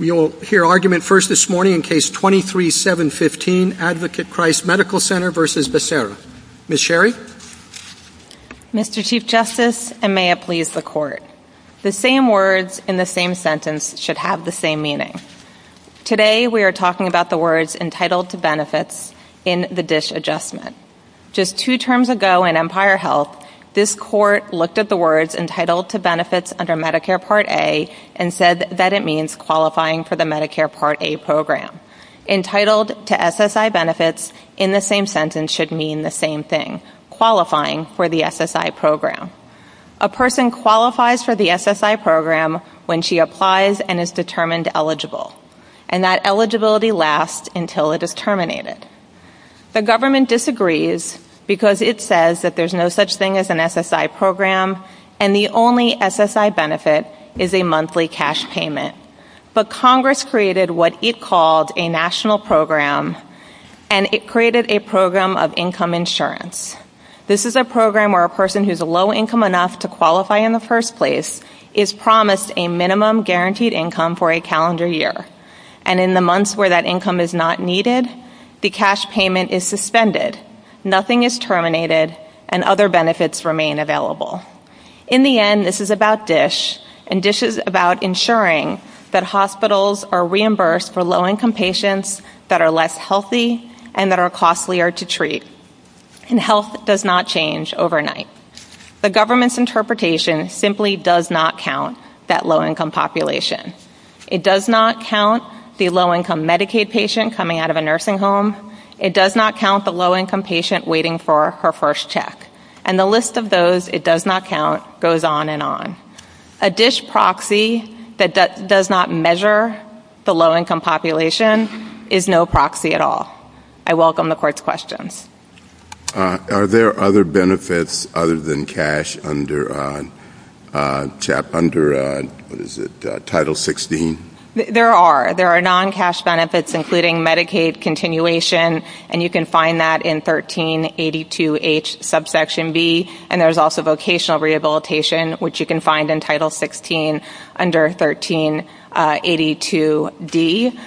You will hear argument first this morning in Case 23-715, Advocate Christ Medical Center v. Becerra. Ms. Sherry? Mr. Chief Justice, and may it please the Court, the same words in the same sentence should have the same meaning. Today we are talking about the words entitled to benefits in the DISH adjustment. Just two terms ago in Empire Health, this Court looked at the words entitled to benefits under Medicare Part A and said that it means qualifying for the Medicare Part A program. Entitled to SSI benefits in the same sentence should mean the same thing, qualifying for the SSI program. A person qualifies for the SSI program when she applies and is determined eligible. And that eligibility lasts until it is terminated. The government disagrees because it says that there is no such thing as an SSI program and the only SSI benefit is a monthly cash payment. But Congress created what it called a national program and it created a program of income insurance. This is a program where a person who is low income enough to qualify in the first place is promised a minimum guaranteed income for a calendar year. And in the months where that income is not needed, the cash payment is suspended. Nothing is terminated and other benefits remain available. In the end, this is about DISH and DISH is about ensuring that hospitals are reimbursed for low income patients that are less healthy and that are costlier to treat. And health does not change overnight. The government's interpretation simply does not count that low income population. It does not count the low income Medicaid patient coming out of a nursing home. It does not count the low income patient waiting for her first check. And the list of those it does not count goes on and on. A DISH proxy that does not measure the low income population is no proxy at all. I welcome the Court's question. Are there other benefits other than cash under Title 16? There are. There are non-cash benefits including Medicaid continuation, and you can find that in 1382H subsection B. And there's also vocational rehabilitation, which you can find in Title 16 under 1382D.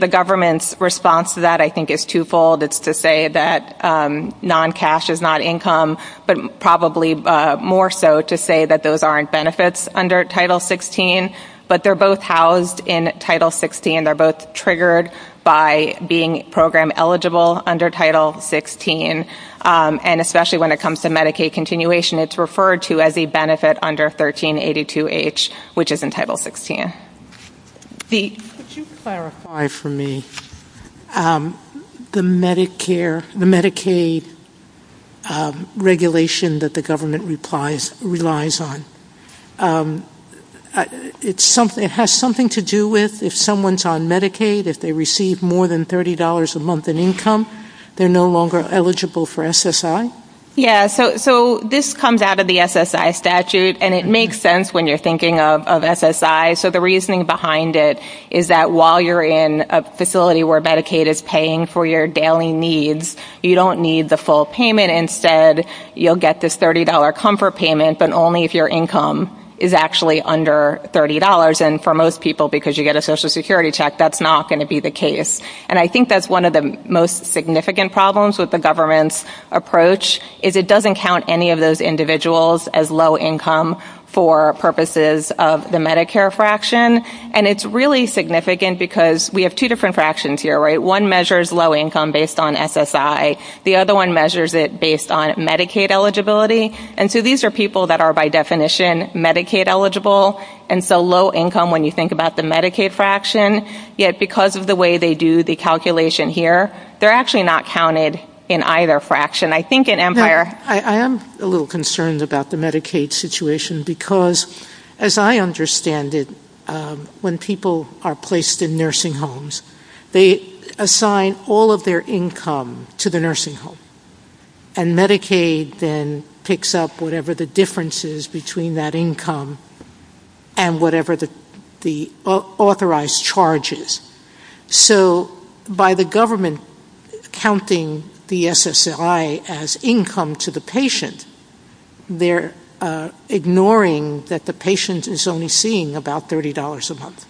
The government's response to that I think is twofold. It's to say that non-cash is not income, but probably more so to say that those aren't benefits under Title 16. But they're both housed in Title 16. They're both triggered by being program eligible under Title 16. And especially when it comes to Medicaid continuation, it's referred to as a benefit under 1382H, which is in Title 16. Could you clarify for me the Medicaid regulation that the government relies on? It has something to do with if someone's on Medicaid, if they receive more than $30 a month in income, they're no longer eligible for SSI? Yes. So this comes out of the SSI statute, and it makes sense when you're thinking of SSI. So the reasoning behind it is that while you're in a facility where Medicaid is paying for your daily needs, you don't need the full payment. Instead, you'll get this $30 comfort payment, but only if your income is actually under $30. And for most people, because you get a Social Security check, that's not going to be the case. And I think that's one of the most significant problems with the government's approach, is it doesn't count any of those individuals as low income for purposes of the Medicare fraction. And it's really significant because we have two different fractions here, right? One measures low income based on SSI. The other one measures it based on Medicaid eligibility. And so these are people that are by definition Medicaid eligible, and so low income when you think about the Medicaid fraction. Yet because of the way they do the calculation here, they're actually not counted in either fraction. I am a little concerned about the Medicaid situation because, as I understand it, when people are placed in nursing homes, they assign all of their income to the nursing home. And Medicaid then picks up whatever the difference is between that income and whatever the authorized charge is. So by the government counting the SSI as income to the patient, they're ignoring that the patient is only seeing about $30 a month.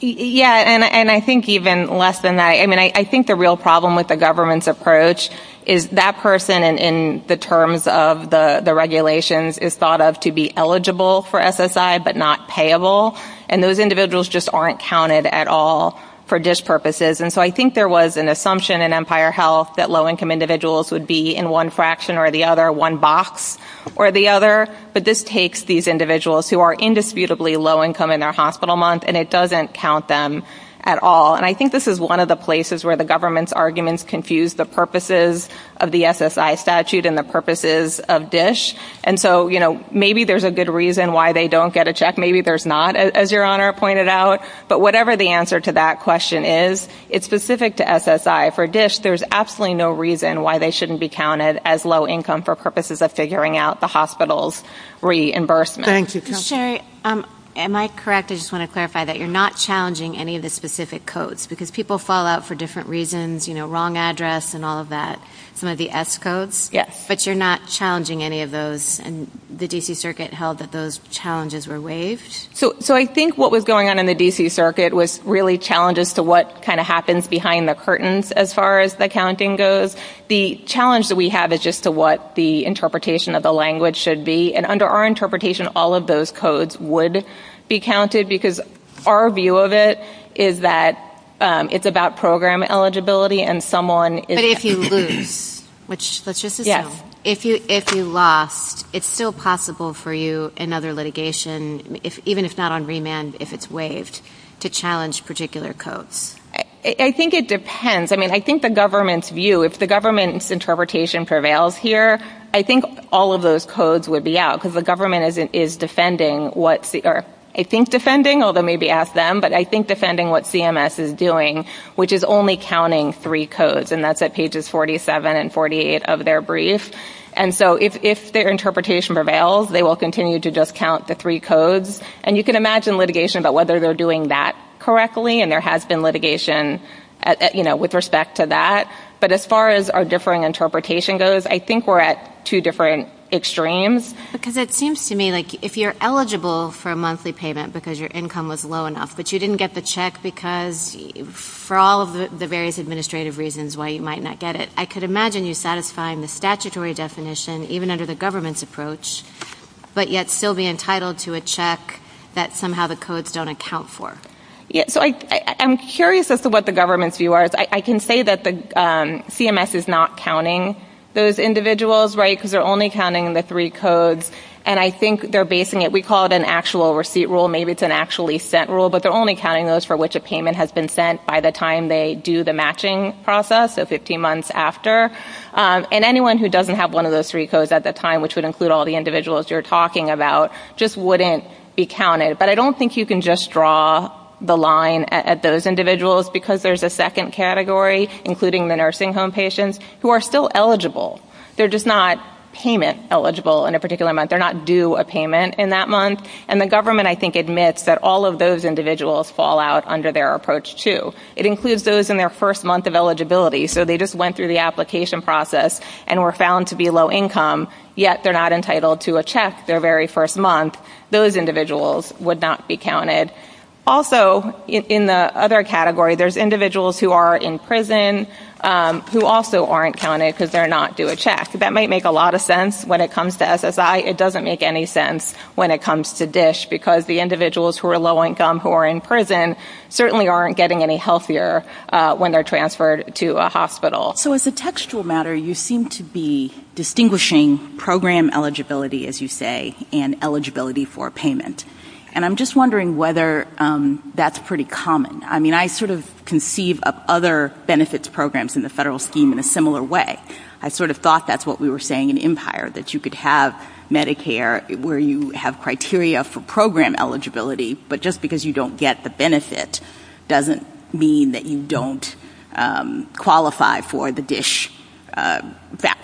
Yeah, and I think even less than that. I mean, I think the real problem with the government's approach is that person, in the terms of the regulations, is thought of to be eligible for SSI but not payable. And those individuals just aren't counted at all for DISH purposes. And so I think there was an assumption in Empire Health that low income individuals would be in one fraction or the other, one box or the other. But this takes these individuals who are indisputably low income in their hospital month, and it doesn't count them at all. And I think this is one of the places where the government's arguments confuse the purposes of the SSI statute and the purposes of DISH. And so, you know, maybe there's a good reason why they don't get a check. Maybe there's not, as Your Honor pointed out. But whatever the answer to that question is, it's specific to SSI. For DISH, there's absolutely no reason why they shouldn't be counted as low income for purposes of figuring out the hospital's reimbursement. Sherry, am I correct? I just want to clarify that you're not challenging any of the specific codes because people fall out for different reasons, you know, wrong address and all of that, some of the S codes. Yes. But you're not challenging any of those. And the D.C. Circuit held that those challenges were waived. So I think what was going on in the D.C. Circuit was really challenges to what kind of happens behind the curtains as far as the counting goes. The challenge that we have is just to what the interpretation of the language should be. And under our interpretation, all of those codes would be counted because our view of it is that it's about program eligibility and someone is- Let's just assume if you lost, it's still possible for you in other litigation, even if not on remand, if it's waived, to challenge particular codes. I think it depends. I mean, I think the government's view, if the government's interpretation prevails here, I think all of those codes would be out because the government is defending what- I think defending, although maybe ask them, but I think defending what CMS is doing, which is only counting three codes, and that's at pages 47 and 48 of their brief. And so if their interpretation prevails, they will continue to just count the three codes. And you can imagine litigation about whether they're doing that correctly, and there has been litigation with respect to that. But as far as our differing interpretation goes, I think we're at two different extremes. Because it seems to me like if you're eligible for a monthly payment because your income was low enough but you didn't get the check because, for all of the various administrative reasons why you might not get it, I could imagine you satisfying the statutory definition, even under the government's approach, but yet still be entitled to a check that somehow the codes don't account for. So I'm curious as to what the government's view is. I can say that CMS is not counting those individuals, right, because they're only counting the three codes. And I think they're basing it-we call it an actual receipt rule. Maybe it's an actually sent rule. But they're only counting those for which a payment has been sent by the time they do the matching process, so 15 months after. And anyone who doesn't have one of those three codes at the time, which would include all the individuals you're talking about, just wouldn't be counted. But I don't think you can just draw the line at those individuals because there's a second category, including the nursing home patients, who are still eligible. They're just not payment eligible in a particular month. They're not due a payment in that month. And the government, I think, admits that all of those individuals fall out under their approach, too. It includes those in their first month of eligibility. So they just went through the application process and were found to be low income, yet they're not entitled to a check their very first month. Those individuals would not be counted. Also, in the other category, there's individuals who are in prison, who also aren't counted because they're not due a check. That might make a lot of sense when it comes to SSI. It doesn't make any sense when it comes to DSH because the individuals who are low income, who are in prison, certainly aren't getting any healthier when they're transferred to a hospital. So as a textual matter, you seem to be distinguishing program eligibility, as you say, and eligibility for payment. And I'm just wondering whether that's pretty common. I mean, I sort of conceive of other benefits programs in the federal scheme in a similar way. I sort of thought that's what we were saying in Empire, that you could have Medicare where you have criteria for program eligibility, but just because you don't get the benefit doesn't mean that you don't qualify for the DSH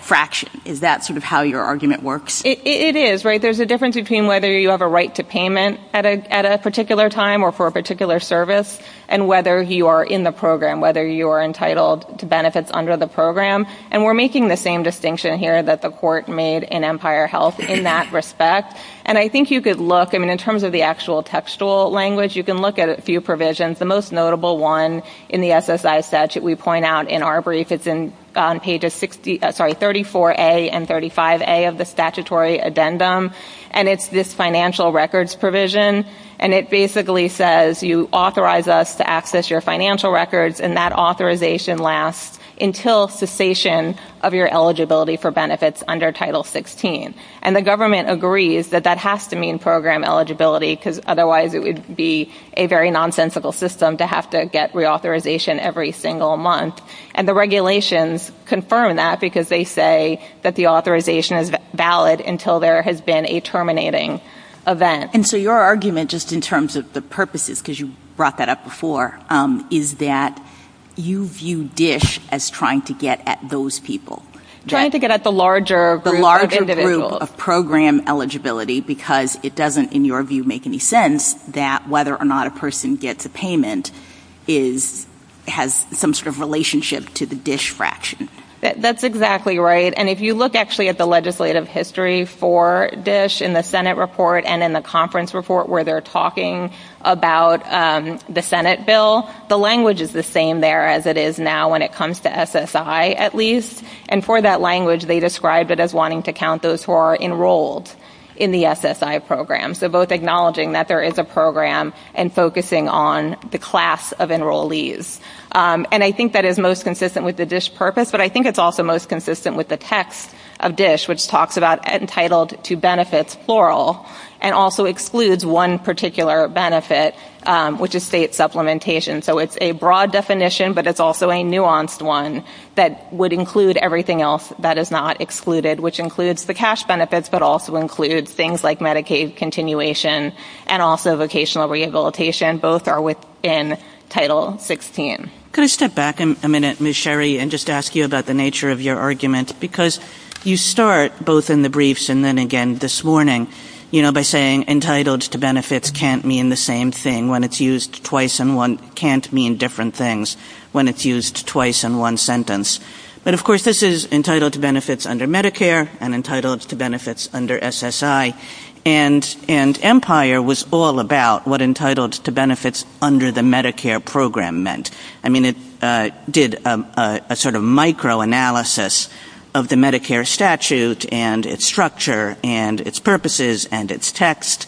fraction. Is that sort of how your argument works? It is, right? There's a difference between whether you have a right to payment at a particular time or for a particular service and whether you are in the program, whether you are entitled to benefits under the program. And we're making the same distinction here that the court made in Empire Health in that respect. And I think you could look, I mean, in terms of the actual textual language, you can look at a few provisions. The most notable one in the SSI statute we point out in our brief, it's on pages 34A and 35A of the statutory addendum, and it's this financial records provision. And it basically says you authorize us to access your financial records, and that authorization lasts until cessation of your eligibility for benefits under Title 16. And the government agrees that that has to mean program eligibility, because otherwise it would be a very nonsensical system to have to get reauthorization every single month. And the regulations confirm that because they say that the authorization is valid until there has been a terminating event. And so your argument, just in terms of the purposes, because you brought that up before, is that you view DSH as trying to get at those people. Trying to get at the larger group of individuals. The larger group of program eligibility, because it doesn't, in your view, make any sense that whether or not a person gets a payment has some sort of relationship to the DSH fraction. That's exactly right. And if you look actually at the legislative history for DSH in the Senate report and in the conference report where they're talking about the Senate bill, the language is the same there as it is now when it comes to SSI at least. And for that language, they describe it as wanting to count those who are enrolled in the SSI program. So both acknowledging that there is a program and focusing on the class of enrollees. And I think that is most consistent with the DSH purpose, but I think it's also most consistent with the text of DSH, which talks about entitled to benefits plural and also excludes one particular benefit, which is state supplementation. So it's a broad definition, but it's also a nuanced one that would include everything else that is not excluded, which includes the cash benefits, but also includes things like Medicaid continuation and also vocational rehabilitation. Both are within Title 16. Can I step back a minute, Ms. Sherry, and just ask you about the nature of your argument? Because you start both in the briefs and then again this morning, you know, by saying entitled to benefits can't mean the same thing when it's used twice in one, can't mean different things when it's used twice in one sentence. But, of course, this is entitled to benefits under Medicare and entitled to benefits under SSI. And Empire was all about what entitled to benefits under the Medicare program meant. I mean, it did a sort of microanalysis of the Medicare statute and its structure and its purposes and its text.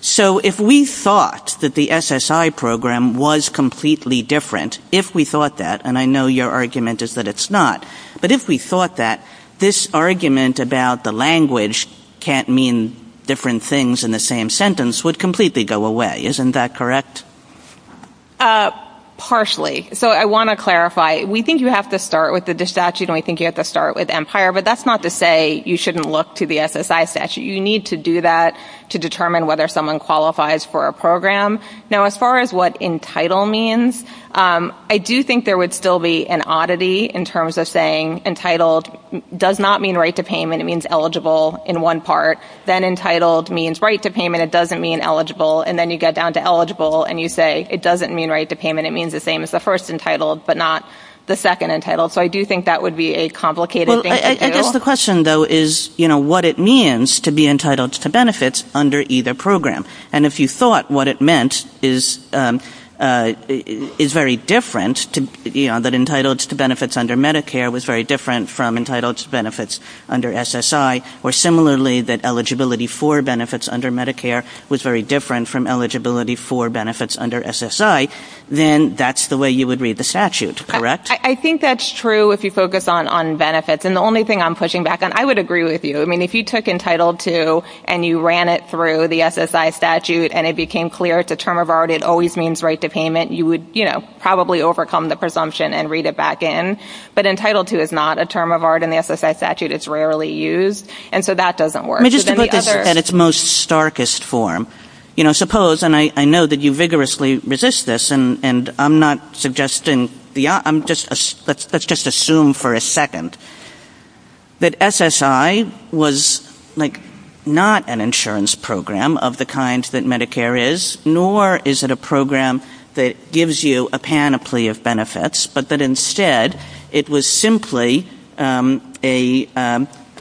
So if we thought that the SSI program was completely different, if we thought that, and I know your argument is that it's not, but if we thought that, this argument about the language can't mean different things in the same sentence would completely go away, isn't that correct? Partially. So I want to clarify. We think you have to start with the statute and we think you have to start with Empire, but that's not to say you shouldn't look to the SSI statute. You need to do that to determine whether someone qualifies for a program. Now, as far as what entitled means, I do think there would still be an oddity in terms of saying entitled does not mean right to payment, it means eligible in one part, then entitled means right to payment, it doesn't mean eligible, and then you get down to eligible and you say it doesn't mean right to payment, it means the same as the first entitled but not the second entitled. So I do think that would be a complicated thing to do. I guess the question, though, is what it means to be entitled to benefits under either program. And if you thought what it meant is very different, that entitled to benefits under Medicare was very different from entitled to benefits under SSI, or similarly that eligibility for benefits under Medicare was very different from eligibility for benefits under SSI, then that's the way you would read the statute, correct? I think that's true if you focus on benefits. And the only thing I'm pushing back on, I would agree with you. I mean, if you took entitled to and you ran it through the SSI statute and it became clear it's a term of art, it always means right to payment, you would probably overcome the presumption and read it back in. But entitled to is not a term of art in the SSI statute. It's rarely used. And so that doesn't work. Let me just look at its most starkest form. You know, suppose, and I know that you vigorously resist this, and I'm not suggesting, let's just assume for a second that SSI was not an insurance program of the kind that Medicare is, nor is it a program that gives you a panoply of benefits, but that instead it was simply a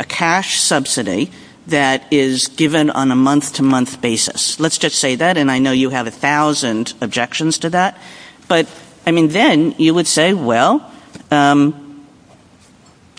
cash subsidy that is given on a month-to-month basis. Let's just say that. And I know you have a thousand objections to that. But, I mean, then you would say, well,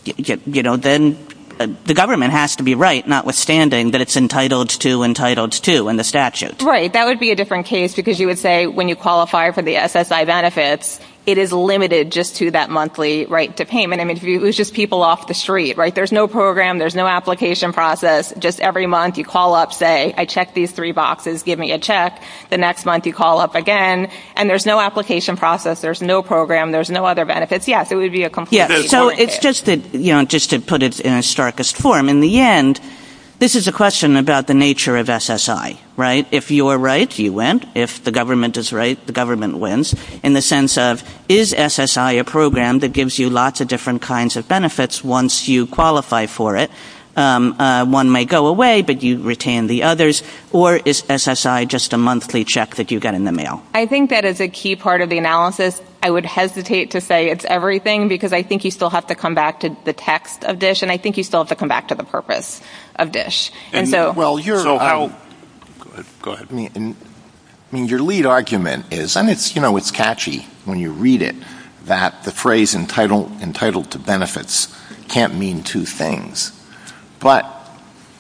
you know, then the government has to be right, notwithstanding that it's entitled to entitled to in the statute. Right. That would be a different case because you would say when you qualify for the SSI benefits, it is limited just to that monthly right to payment. I mean, it was just people off the street. Right. There's no program. There's no application process. Just every month you call up, say, I checked these three boxes. Give me a check. The next month you call up again. And there's no application process. There's no program. There's no other benefits. Yes, it would be a completely different case. So it's just that, you know, just to put it in its starkest form, in the end, this is a question about the nature of SSI. Right. If you are right, you win. If the government is right, the government wins. In the sense of, is SSI a program that gives you lots of different kinds of benefits once you qualify for it? One may go away, but you retain the others. Or is SSI just a monthly check that you get in the mail? I think that is a key part of the analysis. I would hesitate to say it's everything because I think you still have to come back to the text of DISH, and I think you still have to come back to the purpose of DISH. Go ahead. I mean, your lead argument is, and, you know, it's catchy when you read it, that the phrase entitled to benefits can't mean two things. But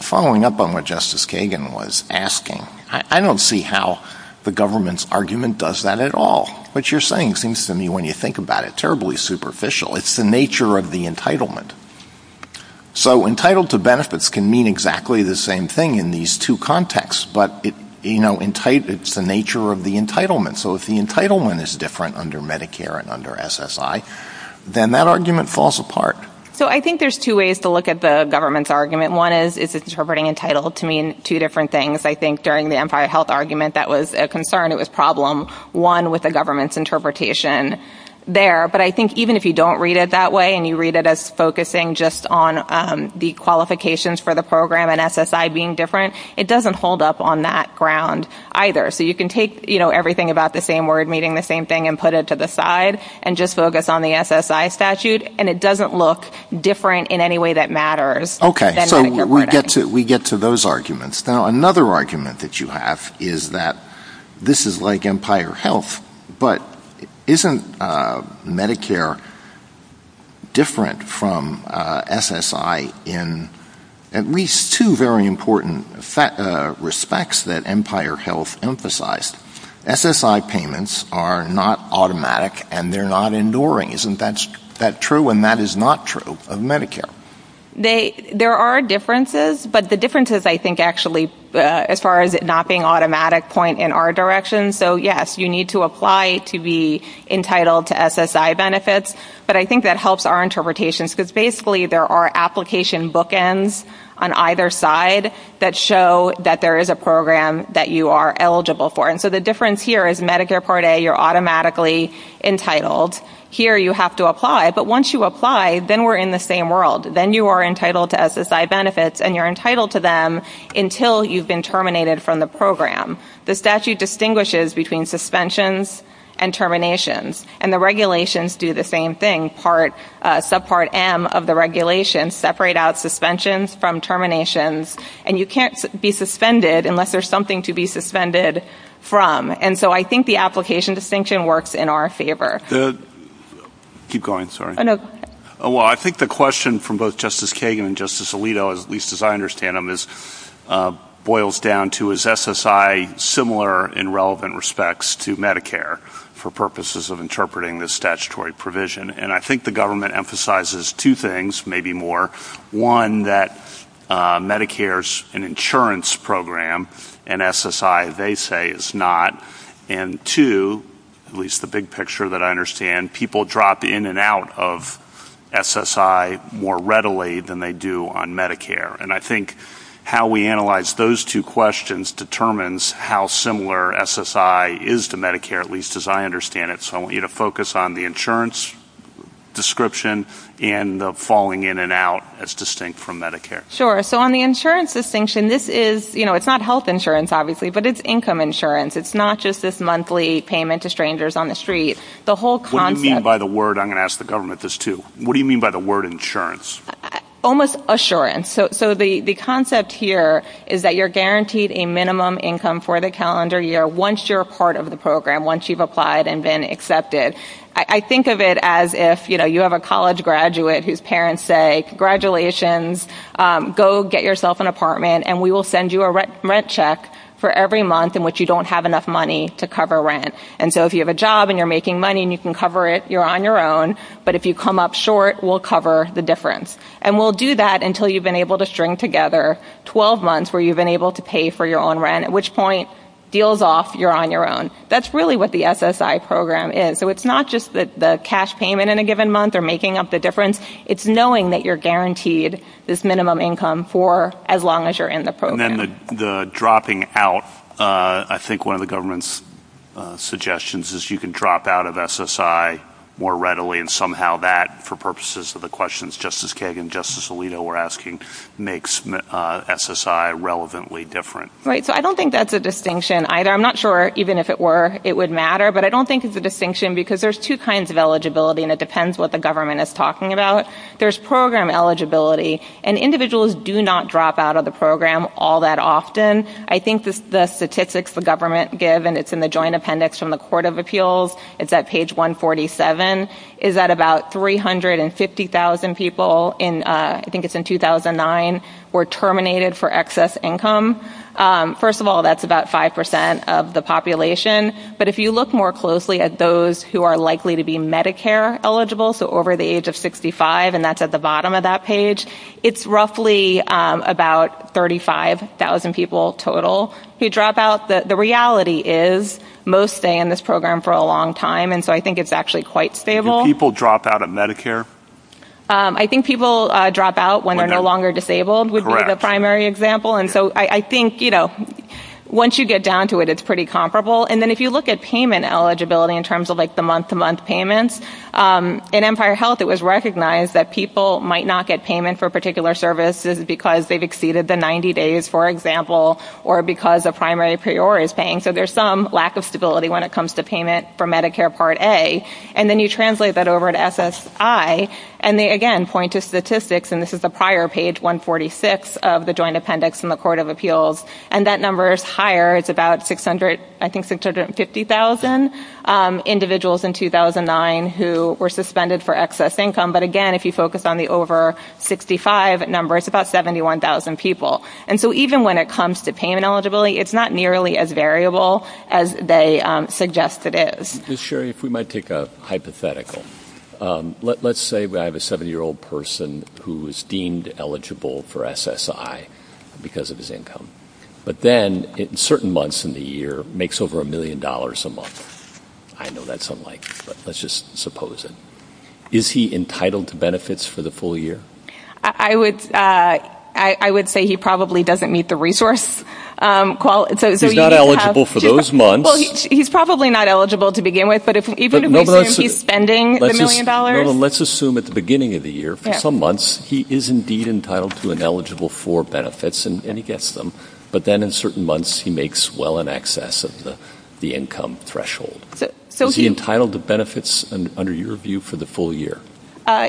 following up on what Justice Kagan was asking, I don't see how the government's argument does that at all. What you're saying seems to me, when you think about it, terribly superficial. It's the nature of the entitlement. So entitled to benefits can mean exactly the same thing in these two contexts, but, you know, it's the nature of the entitlement. So if the entitlement is different under Medicare and under SSI, then that argument falls apart. So I think there's two ways to look at the government's argument. One is, is it interpreting entitled to mean two different things? I think during the Empire Health argument, that was a concern, it was a problem, one with the government's interpretation there. But I think even if you don't read it that way and you read it as focusing just on the qualifications for the program and SSI being different, it doesn't hold up on that ground either. So you can take, you know, everything about the same word meaning the same thing and put it to the side and just focus on the SSI statute, and it doesn't look different in any way that matters. Okay. So we get to those arguments. Now, another argument that you have is that this is like Empire Health, but isn't Medicare different from SSI in at least two very important respects that Empire Health emphasized? SSI payments are not automatic and they're not enduring. Isn't that true? And that is not true of Medicare. There are differences, but the differences I think actually, as far as it not being automatic, point in our direction. So, yes, you need to apply to be entitled to SSI benefits, but I think that helps our interpretations because basically there are application bookends on either side that show that there is a program that you are eligible for. And so the difference here is Medicare Part A, you're automatically entitled. Here you have to apply. But once you apply, then we're in the same world. Then you are entitled to SSI benefits, and you're entitled to them until you've been terminated from the program. The statute distinguishes between suspensions and terminations, and the regulations do the same thing. Subpart M of the regulations separate out suspensions from terminations, and you can't be suspended unless there's something to be suspended from. And so I think the application distinction works in our favor. Keep going, sorry. Oh, no. Well, I think the question from both Justice Kagan and Justice Alito, at least as I understand them, boils down to, is SSI similar in relevant respects to Medicare for purposes of interpreting this statutory provision? And I think the government emphasizes two things, maybe more. One, that Medicare is an insurance program, and SSI, they say, is not. And two, at least the big picture that I understand, people drop in and out of SSI more readily than they do on Medicare. And I think how we analyze those two questions determines how similar SSI is to Medicare, at least as I understand it. So I want you to focus on the insurance description and the falling in and out as distinct from Medicare. Sure. So on the insurance distinction, this is, you know, it's not health insurance, obviously, but it's income insurance. It's not just this monthly payment to strangers on the street. What do you mean by the word? I'm going to ask the government this, too. What do you mean by the word insurance? Almost assurance. So the concept here is that you're guaranteed a minimum income for the calendar year once you're a part of the program, once you've applied and been accepted. I think of it as if, you know, you have a college graduate whose parents say, congratulations, go get yourself an apartment, and we will send you a rent check for every month in which you don't have enough money to cover rent. And so if you have a job and you're making money and you can cover it, you're on your own. But if you come up short, we'll cover the difference. And we'll do that until you've been able to string together 12 months where you've been able to pay for your own rent, at which point, deals off, you're on your own. That's really what the SSI program is. So it's not just the cash payment in a given month or making up the difference. It's knowing that you're guaranteed this minimum income for as long as you're in the program. And then the dropping out, I think one of the government's suggestions is you can drop out of SSI more readily, and somehow that, for purposes of the questions Justice Kagan and Justice Alito were asking, makes SSI relevantly different. Right, so I don't think that's a distinction either. I'm not sure even if it were it would matter. But I don't think it's a distinction because there's two kinds of eligibility, and it depends what the government is talking about. There's program eligibility. And individuals do not drop out of the program all that often. I think the statistics the government give, and it's in the Joint Appendix from the Court of Appeals, it's at page 147, is that about 350,000 people, I think it's in 2009, were terminated for excess income. First of all, that's about 5% of the population. But if you look more closely at those who are likely to be Medicare eligible, so over the age of 65, and that's at the bottom of that page, it's roughly about 35,000 people total who drop out. The reality is most stay in this program for a long time, and so I think it's actually quite stable. Do people drop out of Medicare? I think people drop out when they're no longer disabled would be the primary example. And so I think, you know, once you get down to it, it's pretty comparable. And then if you look at payment eligibility in terms of like the month-to-month payments, in Empire Health it was recognized that people might not get payment for a particular service because they've exceeded the 90 days, for example, or because a primary priority is paying. So there's some lack of stability when it comes to payment for Medicare Part A. And then you translate that over to SSI, and they, again, point to statistics, and this is the prior page, 146 of the Joint Appendix in the Court of Appeals, and that number is higher. It's about, I think, 650,000 individuals in 2009 who were suspended for excess income. But, again, if you focus on the over 65 number, it's about 71,000 people. And so even when it comes to payment eligibility, it's not nearly as variable as they suggest it is. Ms. Sherry, if we might take a hypothetical. Let's say I have a 70-year-old person who is deemed eligible for SSI because of his income, but then in certain months in the year makes over a million dollars a month. I know that's unlikely, but let's just suppose it. Is he entitled to benefits for the full year? I would say he probably doesn't meet the resource. He's not eligible for those months. Well, he's probably not eligible to begin with, but even if I assume he's spending the million dollars. Let's assume at the beginning of the year, for some months, he is indeed entitled to and eligible for benefits, and he gets them, but then in certain months he makes well in excess of the income threshold. Is he entitled to benefits under your view for the full year?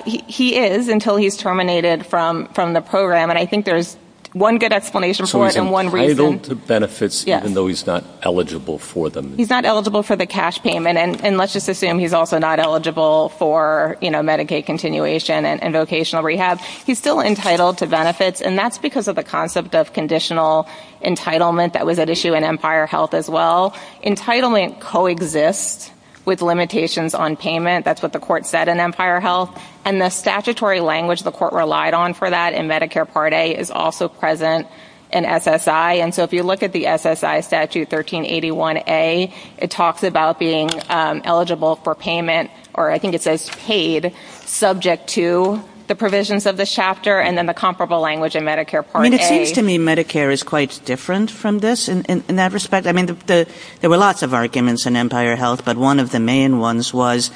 He is until he's terminated from the program, and I think there's one good explanation for it and one reason. He's entitled to benefits even though he's not eligible for them. He's not eligible for the cash payment, and let's just assume he's also not eligible for Medicaid continuation and vocational rehab. He's still entitled to benefits, and that's because of the concept of conditional entitlement that was at issue in Empire Health as well. Entitlement coexists with limitations on payment. That's what the court said in Empire Health, and the statutory language the court relied on for that in Medicare Part A is also present in SSI, and so if you look at the SSI Statute 1381A, it talks about being eligible for payment, or I think it says paid, subject to the provisions of the chapter and then the comparable language in Medicare Part A. I mean, it seems to me Medicare is quite different from this in that respect. I mean, there were lots of arguments in Empire Health, but one of the main ones was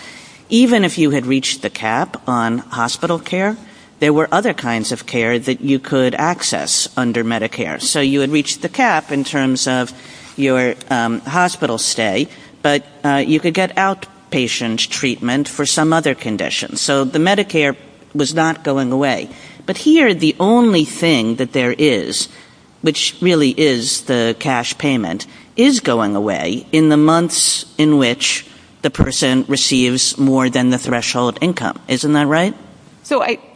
even if you had reached the cap on hospital care, there were other kinds of care that you could access under Medicare. So you would reach the cap in terms of your hospital stay, but you could get outpatient treatment for some other condition. So the Medicare was not going away. But here the only thing that there is, which really is the cash payment, is going away in the months in which the person receives more than the threshold income. Isn't that right?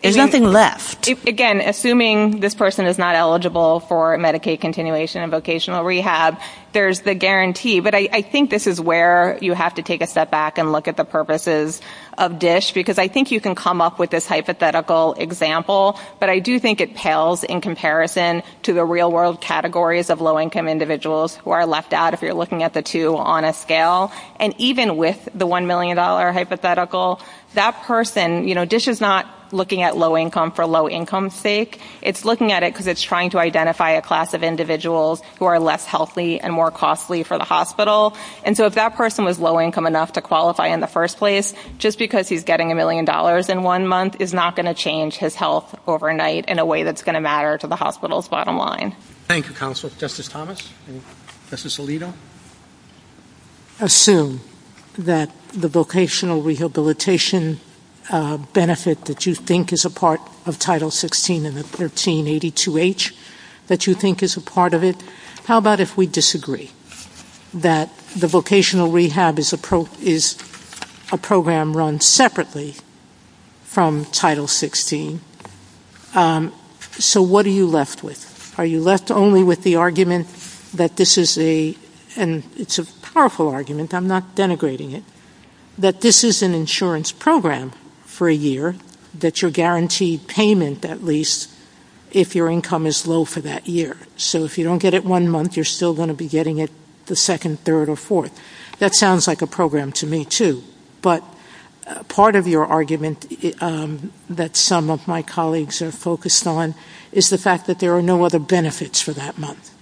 There's nothing left. Again, assuming this person is not eligible for Medicaid continuation and vocational rehab, there's the guarantee. But I think this is where you have to take a step back and look at the purposes of DSH, because I think you can come up with this hypothetical example, but I do think it pales in comparison to the real-world categories of low-income individuals who are left out if you're looking at the two on a scale. And even with the $1 million hypothetical, that person, you know, is not looking at low income for low income's sake. It's looking at it because it's trying to identify a class of individuals who are less healthy and more costly for the hospital. And so if that person was low income enough to qualify in the first place, just because he's getting $1 million in one month is not going to change his health overnight in a way that's going to matter to the hospital's bottom line. Thank you, Counsel. Justice Thomas and Justice Alito. I assume that the vocational rehabilitation benefit that you think is a part of Title 16 and the 1382H that you think is a part of it. How about if we disagree that the vocational rehab is a program run separately from Title 16? So what are you left with? Are you left only with the argument that this is a, and it's a powerful argument, I'm not denigrating it, that this is an insurance program for a year that you're guaranteed payment at least if your income is low for that year. So if you don't get it one month, you're still going to be getting it the second, third, or fourth. That sounds like a program to me, too. But part of your argument that some of my colleagues are focused on is the fact that there are no other benefits for that month.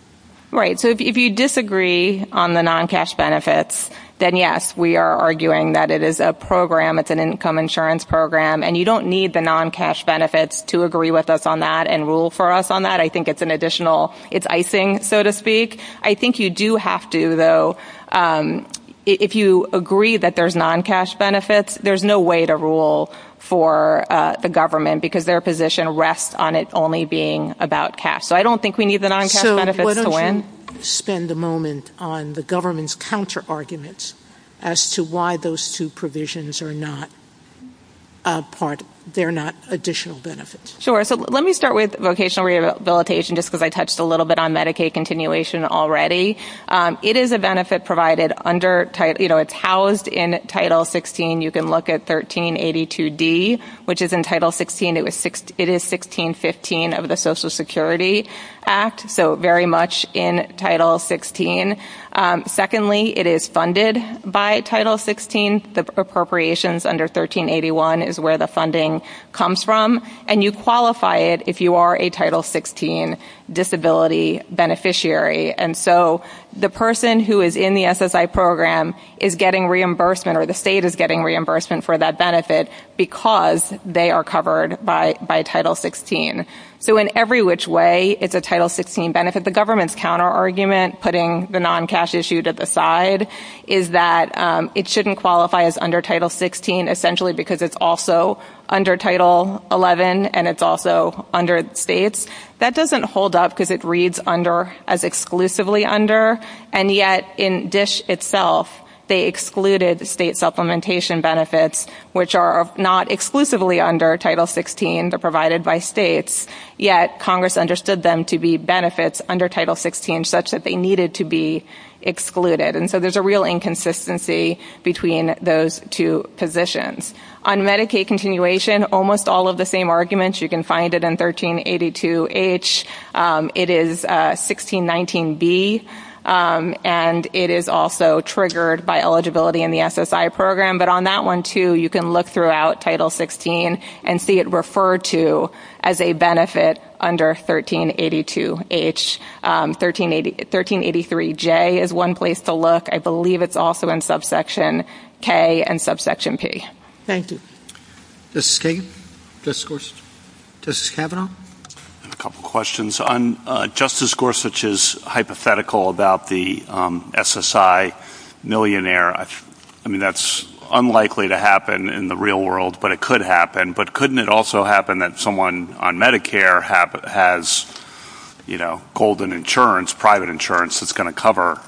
Right. So if you disagree on the non-cash benefits, then, yes, we are arguing that it is a program, it's an income insurance program, and you don't need the non-cash benefits to agree with us on that and rule for us on that. I think it's an additional, it's icing, so to speak. I think you do have to, though, if you agree that there's non-cash benefits, there's no way to rule for the government because their position rests on it only being about cash. So I don't think we need the non-cash benefits to win. So why don't you spend a moment on the government's counterarguments as to why those two provisions are not part, they're not additional benefits. Sure. So let me start with vocational rehabilitation just because I touched a little bit on Medicaid continuation already. It is a benefit provided under, you know, it's housed in Title 16. You can look at 1382D, which is in Title 16. It is 1615 of the Social Security Act, so very much in Title 16. Secondly, it is funded by Title 16. The appropriations under 1381 is where the funding comes from, and you qualify it if you are a Title 16 disability beneficiary. And so the person who is in the SSI program is getting reimbursement or the state is getting reimbursement for that benefit because they are covered by Title 16. So in every which way, it's a Title 16 benefit. The government's counterargument, putting the non-cash issue to the side, is that it shouldn't qualify as under Title 16 essentially because it's also under Title 11 and it's also under states. That doesn't hold up because it reads as exclusively under, and yet in DSH itself, they excluded state supplementation benefits, which are not exclusively under Title 16. They're provided by states, yet Congress understood them to be benefits under Title 16 such that they needed to be excluded. And so there's a real inconsistency between those two positions. On Medicaid continuation, almost all of the same arguments. You can find it in 1382H. It is 1619B, and it is also triggered by eligibility in the SSI program. But on that one, too, you can look throughout Title 16 and see it referred to as a benefit under 1382H. 1383J is one place to look. I believe it's also in subsection K and subsection P. Thank you. Justice Kagan? Justice Gorsuch? Justice Kavanaugh? I have a couple questions. Justice Gorsuch is hypothetical about the SSI millionaire. I mean, that's unlikely to happen in the real world, but it could happen. But couldn't it also happen that someone on Medicare has, you know, golden insurance, private insurance that's going to cover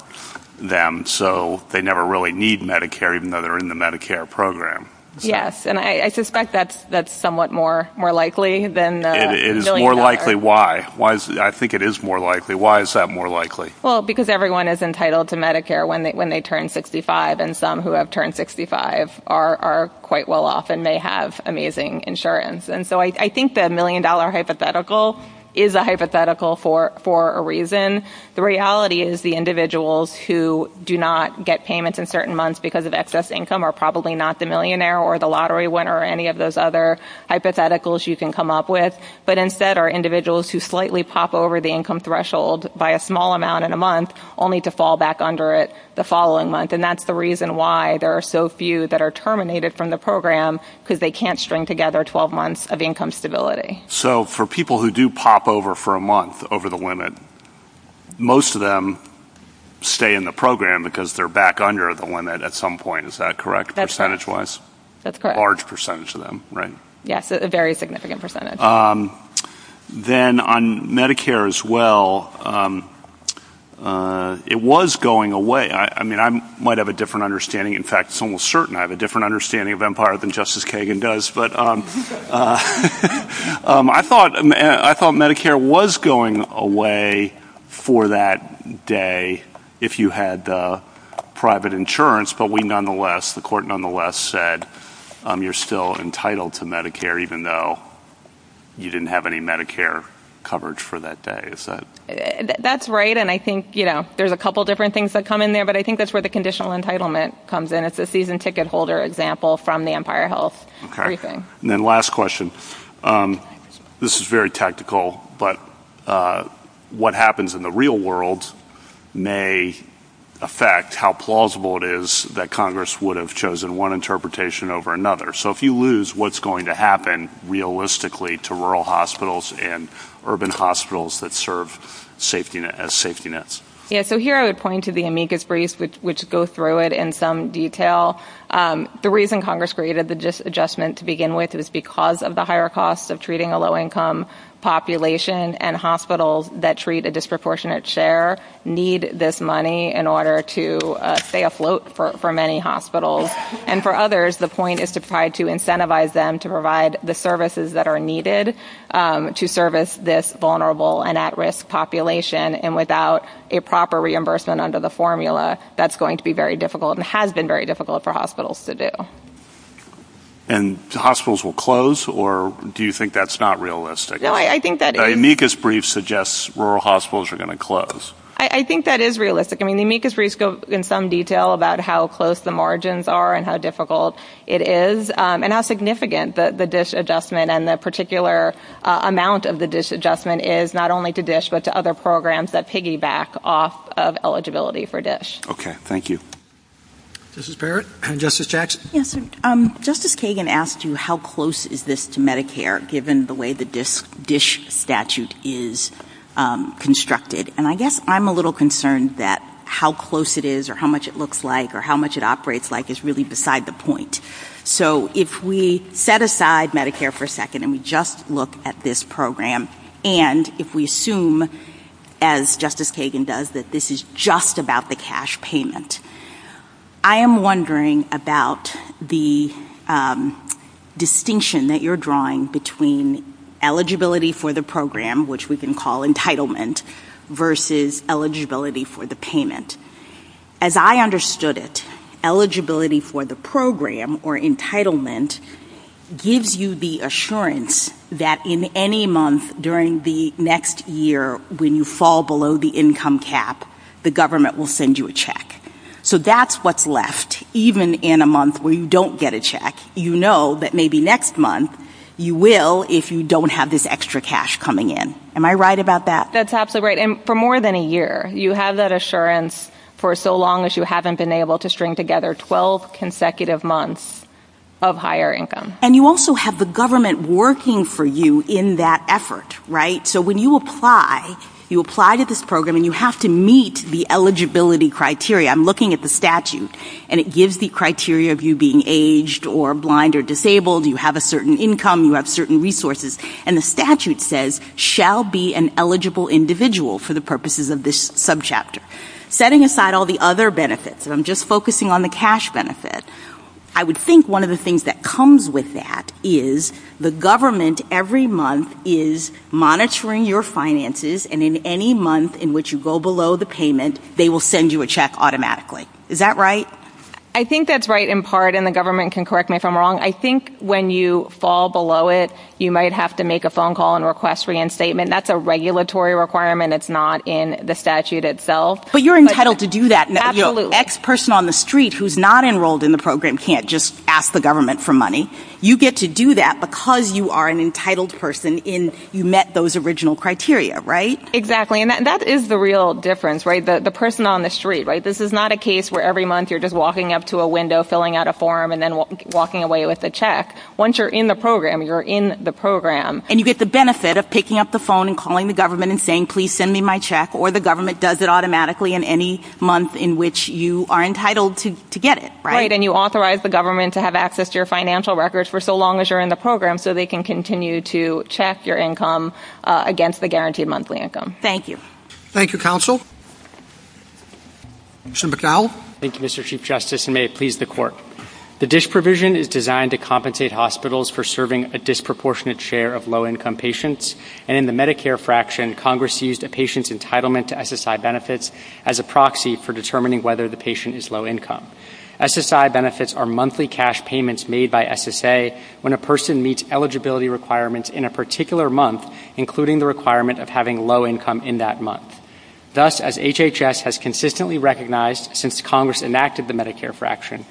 them and so they never really need Medicare even though they're in the Medicare program? Yes, and I suspect that's somewhat more likely than million dollars. It is more likely. Why? I think it is more likely. Why is that more likely? Well, because everyone is entitled to Medicare when they turn 65, and some who have turned 65 are quite well off and may have amazing insurance. And so I think the million-dollar hypothetical is a hypothetical for a reason. The reality is the individuals who do not get payments in certain months because of excess income are probably not the millionaire or the lottery winner or any of those other hypotheticals you can come up with, but instead are individuals who slightly pop over the income threshold by a small amount in a month only to fall back under it the following month. And that's the reason why there are so few that are terminated from the program because they can't string together 12 months of income stability. So for people who do pop over for a month over the limit, most of them stay in the program because they're back under the limit at some point. Is that correct percentage-wise? That's correct. A large percentage of them, right? Yes, a very significant percentage. Then on Medicare as well, it was going away. I mean, I might have a different understanding. In fact, it's almost certain I have a different understanding of Empire than Justice Kagan does. But I thought Medicare was going away for that day if you had private insurance, but the court nonetheless said you're still entitled to Medicare even though you didn't have any Medicare coverage for that day. That's right, and I think there's a couple different things that come in there, but I think that's where the conditional entitlement comes in. That's a season ticket holder example from the Empire Health briefing. Then last question. This is very tactical, but what happens in the real world may affect how plausible it is that Congress would have chosen one interpretation over another. So if you lose, what's going to happen realistically to rural hospitals and urban hospitals that serve as safety nets? Yes, so here I would point to the amicus brief, which goes through it in some detail. The reason Congress created the adjustment to begin with is because of the higher costs of treating a low-income population, and hospitals that treat a disproportionate share need this money in order to stay afloat for many hospitals. And for others, the point is to try to incentivize them to provide the services that are needed to service this vulnerable and at-risk population. And without a proper reimbursement under the formula, that's going to be very difficult and has been very difficult for hospitals to do. And hospitals will close, or do you think that's not realistic? The amicus brief suggests rural hospitals are going to close. I think that is realistic. I mean, the amicus briefs go in some detail about how close the margins are and how difficult it is, and how significant the DISH adjustment and the particular amount of the DISH adjustment is not only to DISH but to other programs that piggyback off of eligibility for DISH. Okay, thank you. Justice Barrett and Justice Jackson. Yes, Justice Kagan asked you how close is this to Medicare, given the way the DISH statute is constructed. And I guess I'm a little concerned that how close it is or how much it looks like or how much it operates like is really beside the point. So if we set aside Medicare for a second and we just look at this program, and if we assume, as Justice Kagan does, that this is just about the cash payment, I am wondering about the distinction that you're drawing between eligibility for the program, which we can call entitlement, versus eligibility for the payment. As I understood it, eligibility for the program or entitlement gives you the assurance that in any month during the next year when you fall below the income cap, the government will send you a check. So that's what's left. Even in a month where you don't get a check, you know that maybe next month you will if you don't have this extra cash coming in. Am I right about that? That's absolutely right. And for more than a year, you have that assurance for so long as you haven't been able to string together 12 consecutive months of higher income. And you also have the government working for you in that effort, right? So when you apply, you apply to this program and you have to meet the eligibility criteria. I'm looking at the statute, and it gives the criteria of you being aged or blind or disabled. You have a certain income. You have certain resources. And the statute says, shall be an eligible individual for the purposes of this subchapter. Setting aside all the other benefits, and I'm just focusing on the cash benefits, I would think one of the things that comes with that is the government every month is monitoring your finances, and in any month in which you go below the payment, they will send you a check automatically. Is that right? I think that's right in part, and the government can correct me if I'm wrong. I think when you fall below it, you might have to make a phone call and request reinstatement. That's a regulatory requirement. It's not in the statute itself. But you're entitled to do that. Absolutely. An ex-person on the street who's not enrolled in the program can't just ask the government for money. You get to do that because you are an entitled person and you met those original criteria, right? Exactly, and that is the real difference, right? The person on the street, right? This is not a case where every month you're just walking up to a window, filling out a form, and then walking away with a check. Once you're in the program, you're in the program. And you get the benefit of picking up the phone and calling the government and saying, please send me my check, or the government does it automatically in any month in which you are entitled to get it, right? Right, and you authorize the government to have access to your financial records for so long as you're in the program so they can continue to check your income against the guaranteed monthly income. Thank you. Thank you, counsel. Commissioner McDowell? Thank you, Mr. Chief Justice, and may it please the court. The DISH provision is designed to compensate hospitals for serving a disproportionate share of low-income patients, and in the Medicare fraction, Congress seized a patient's entitlement to SSI benefits as a proxy for determining whether the patient is low-income. SSI benefits are monthly cash payments made by SSA when a person meets eligibility requirements in a particular month, including the requirement of having low income in that month. Thus, as HHS has consistently recognized since Congress enacted the Medicare fraction,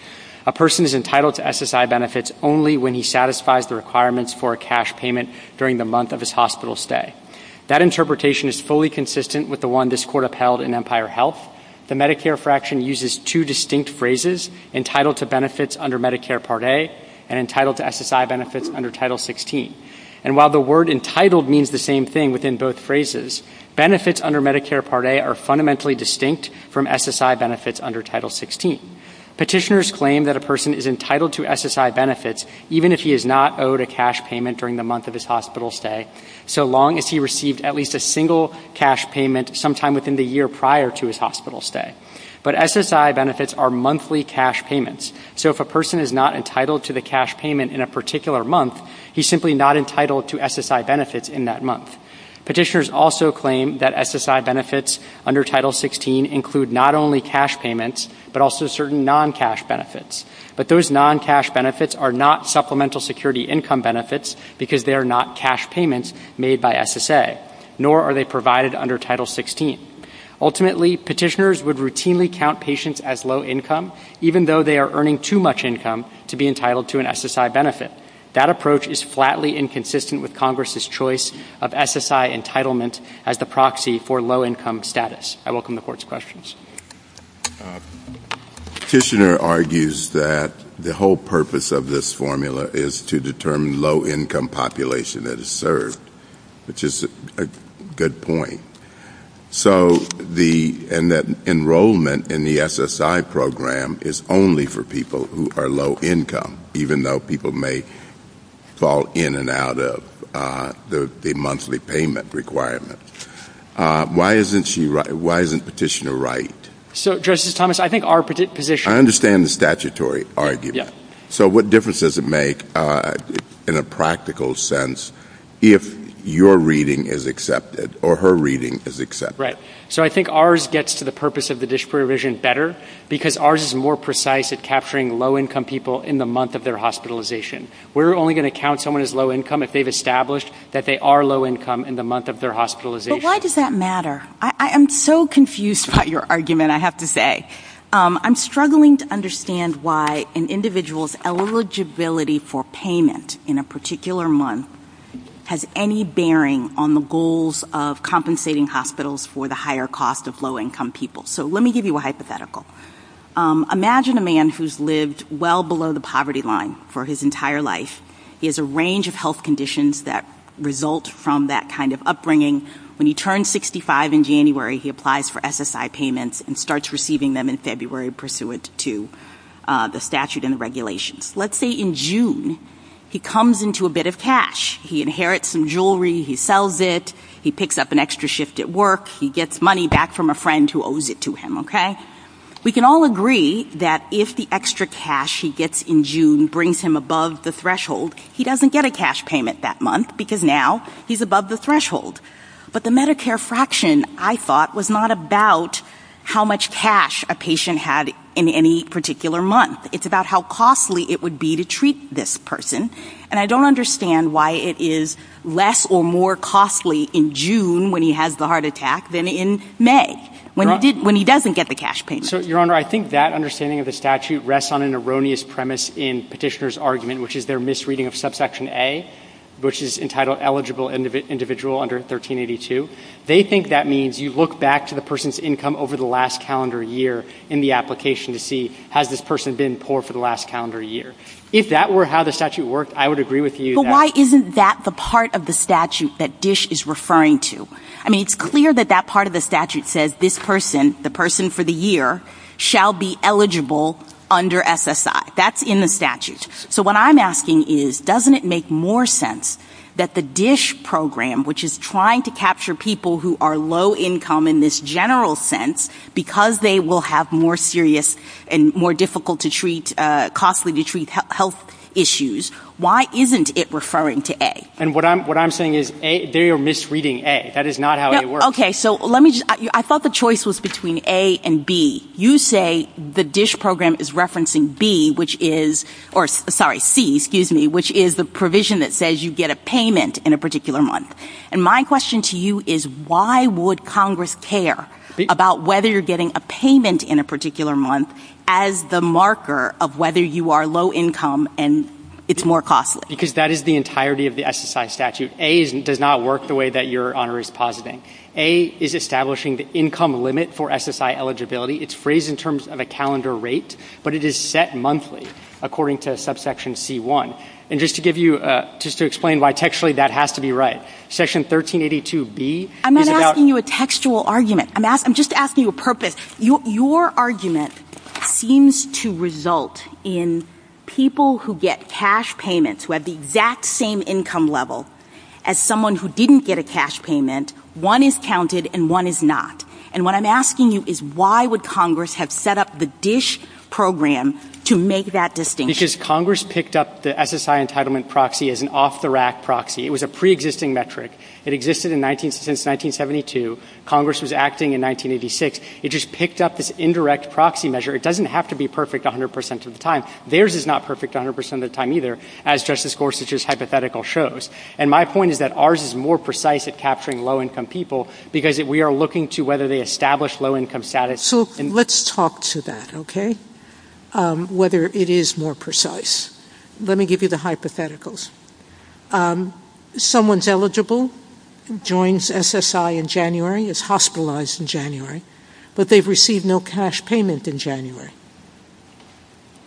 a person is entitled to SSI benefits only when he satisfies the requirements for a cash payment during the month of his hospital stay. That interpretation is fully consistent with the one this court upheld in Empire Health. The Medicare fraction uses two distinct phrases, entitled to benefits under Medicare Part A and entitled to SSI benefits under Title 16. And while the word entitled means the same thing within both phrases, benefits under Medicare Part A are fundamentally distinct from SSI benefits under Title 16. Petitioners claim that a person is entitled to SSI benefits even if he is not owed a cash payment during the month of his hospital stay, so long as he received at least a single cash payment sometime within the year prior to his hospital stay. But SSI benefits are monthly cash payments, so if a person is not entitled to the cash payment in a particular month, he's simply not entitled to SSI benefits in that month. Petitioners also claim that SSI benefits under Title 16 include not only cash payments, but also certain non-cash benefits. But those non-cash benefits are not supplemental security income benefits because they are not cash payments made by SSA, nor are they provided under Title 16. Ultimately, petitioners would routinely count patients as low income, even though they are earning too much income to be entitled to an SSI benefit. That approach is flatly inconsistent with Congress' choice of SSI entitlement as the proxy for low income status. I welcome the Court's questions. Petitioner argues that the whole purpose of this formula is to determine low income population that is served, which is a good point, and that enrollment in the SSI program is only for people who are low income, even though people may fall in and out of the monthly payment requirement. Why isn't she right? Why isn't Petitioner right? So, Justice Thomas, I think our position— I understand the statutory argument. Yes. So what difference does it make in a practical sense if your reading is accepted or her reading is accepted? Right. So I think ours gets to the purpose of the disprovision better because ours is more precise at capturing low income people in the month of their hospitalization. We're only going to count someone as low income if they've established that they are low income in the month of their hospitalization. But why does that matter? I'm so confused about your argument, I have to say. I'm struggling to understand why an individual's eligibility for payment in a particular month has any bearing on the goals of compensating hospitals for the higher cost of low income people. So let me give you a hypothetical. Imagine a man who's lived well below the poverty line for his entire life. He has a range of health conditions that result from that kind of upbringing. When he turns 65 in January, he applies for SSI payments and starts receiving them in February pursuant to the statute and the regulations. Let's say in June, he comes into a bit of cash. He inherits some jewelry, he sells it, he picks up an extra shift at work, he gets money back from a friend who owes it to him, okay? We can all agree that if the extra cash he gets in June brings him above the threshold, he doesn't get a cash payment that month because now he's above the threshold. But the Medicare fraction, I thought, was not about how much cash a patient had in any particular month. It's about how costly it would be to treat this person. And I don't understand why it is less or more costly in June when he has the heart attack than in May when he doesn't get the cash payment. So, Your Honor, I think that understanding of the statute rests on an erroneous premise in Petitioner's argument, which is their misreading of subsection A, which is entitled eligible individual under 1382. They think that means you look back to the person's income over the last calendar year in the application to see has this person been poor for the last calendar year. If that were how the statute worked, I would agree with you. But why isn't that the part of the statute that DISH is referring to? I mean, it's clear that that part of the statute says this person, the person for the year, shall be eligible under SSI. That's in the statute. So what I'm asking is doesn't it make more sense that the DISH program, which is trying to capture people who are low income in this general sense, because they will have more serious and more difficult to treat, costly to treat health issues, why isn't it referring to A? And what I'm saying is they are misreading A. That is not how it works. Okay, so let me just, I thought the choice was between A and B. You say the DISH program is referencing B, which is, or sorry, C, excuse me, which is the provision that says you get a payment in a particular month. And my question to you is why would Congress care about whether you're getting a payment in a particular month as the marker of whether you are low income and it's more costly? Because that is the entirety of the SSI statute. A does not work the way that Your Honor is positing. A is establishing the income limit for SSI eligibility. It's phrased in terms of a calendar rate, but it is set monthly according to subsection C-1. And just to give you, just to explain why textually that has to be right, section 1382-B is about- I'm not asking you a textual argument. I'm just asking you a purpose. Your argument seems to result in people who get cash payments, who have the exact same income level as someone who didn't get a cash payment, one is counted and one is not. And what I'm asking you is why would Congress have set up the DISH program to make that distinction? Because Congress picked up the SSI entitlement proxy as an off-the-rack proxy. It was a preexisting metric. It existed since 1972. Congress was acting in 1986. It just picked up this indirect proxy measure. It doesn't have to be perfect 100% of the time. Theirs is not perfect 100% of the time either, as Justice Gorsuch's hypothetical shows. And my point is that ours is more precise at capturing low-income people because we are looking to whether they establish low-income status. So let's talk to that, okay, whether it is more precise. Let me give you the hypotheticals. Someone's eligible, joins SSI in January, is hospitalized in January, but they've received no cash payment in January.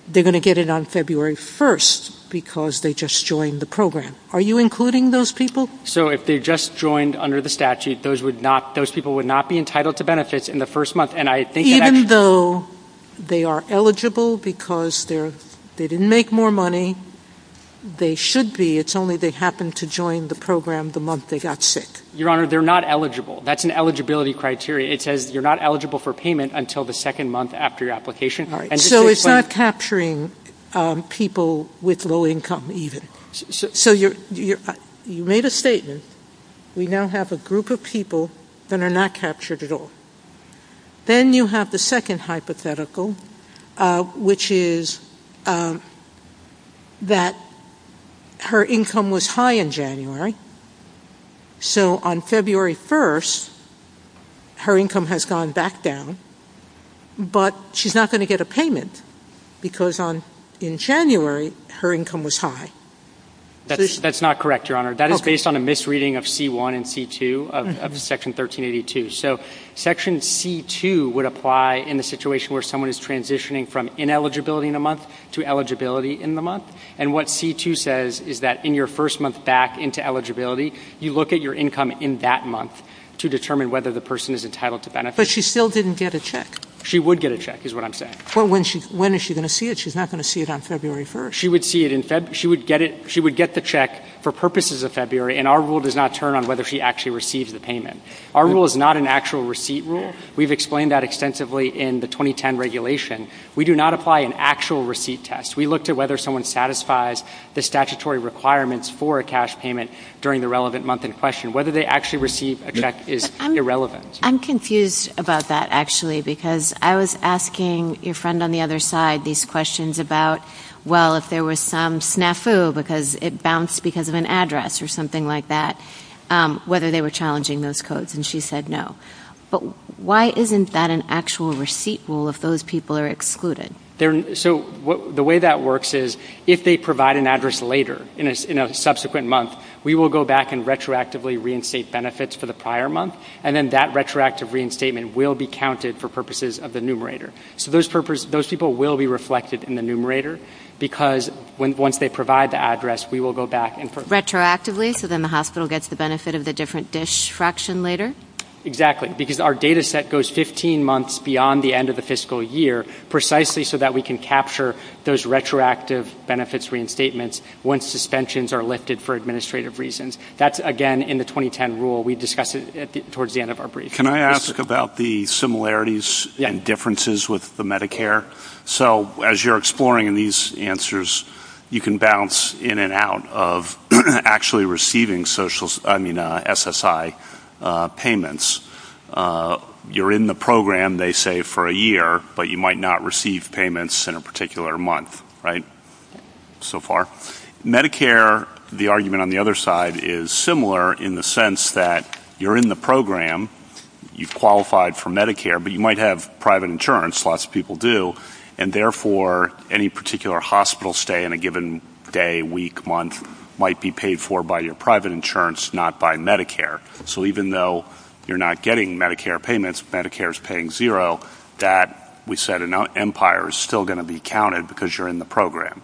They're going to get it on February 1st because they just joined the program. Are you including those people? So if they just joined under the statute, those people would not be entitled to benefits in the first month. Even though they are eligible because they didn't make more money, they should be. It's only they happened to join the program the month they got sick. Your Honor, they're not eligible. That's an eligibility criteria. It says you're not eligible for payment until the second month after your application. So it's not capturing people with low income even. So you made a statement. We now have a group of people that are not captured at all. Then you have the second hypothetical, which is that her income was high in January. So on February 1st, her income has gone back down, but she's not going to get a payment because in January, her income was high. That's not correct, Your Honor. That is based on a misreading of C-1 and C-2 of Section 1382. So Section C-2 would apply in the situation where someone is transitioning from ineligibility in a month to eligibility in the month. And what C-2 says is that in your first month back into eligibility, you look at your income in that month to determine whether the person is entitled to benefits. But she still didn't get a check. She would get a check is what I'm saying. When is she going to see it? She's not going to see it on February 1st. She would get the check for purposes of February, and our rule does not turn on whether she actually receives the payment. Our rule is not an actual receipt rule. We've explained that extensively in the 2010 regulation. We do not apply an actual receipt test. We looked at whether someone satisfies the statutory requirements for a cash payment during the relevant month in question. Whether they actually receive a check is irrelevant. I'm confused about that, actually, because I was asking your friend on the other side these questions about, well, if there was some snafu because it bounced because of an address or something like that, whether they were challenging those codes, and she said no. But why isn't that an actual receipt rule if those people are excluded? So the way that works is if they provide an address later in a subsequent month, we will go back and retroactively reinstate benefits for the prior month, and then that retroactive reinstatement will be counted for purposes of the numerator. So those people will be reflected in the numerator, because once they provide the address, we will go back and- Retroactively, so then the hospital gets the benefit of the different dish fraction later? Exactly, because our data set goes 15 months beyond the end of the fiscal year, precisely so that we can capture those retroactive benefits reinstatements once suspensions are lifted for administrative reasons. That's, again, in the 2010 rule. We discussed it towards the end of our brief. Can I ask about the similarities and differences with the Medicare? So as you're exploring these answers, you can bounce in and out of actually receiving SSI payments. You're in the program, they say, for a year, but you might not receive payments in a particular month, right, so far? Medicare, the argument on the other side, is similar in the sense that you're in the program, you've qualified for Medicare, but you might have private insurance, lots of people do, and therefore any particular hospital stay in a given day, week, month might be paid for by your private insurance, not by Medicare. So even though you're not getting Medicare payments, Medicare is paying zero, that, we said, in our empire is still going to be counted because you're in the program.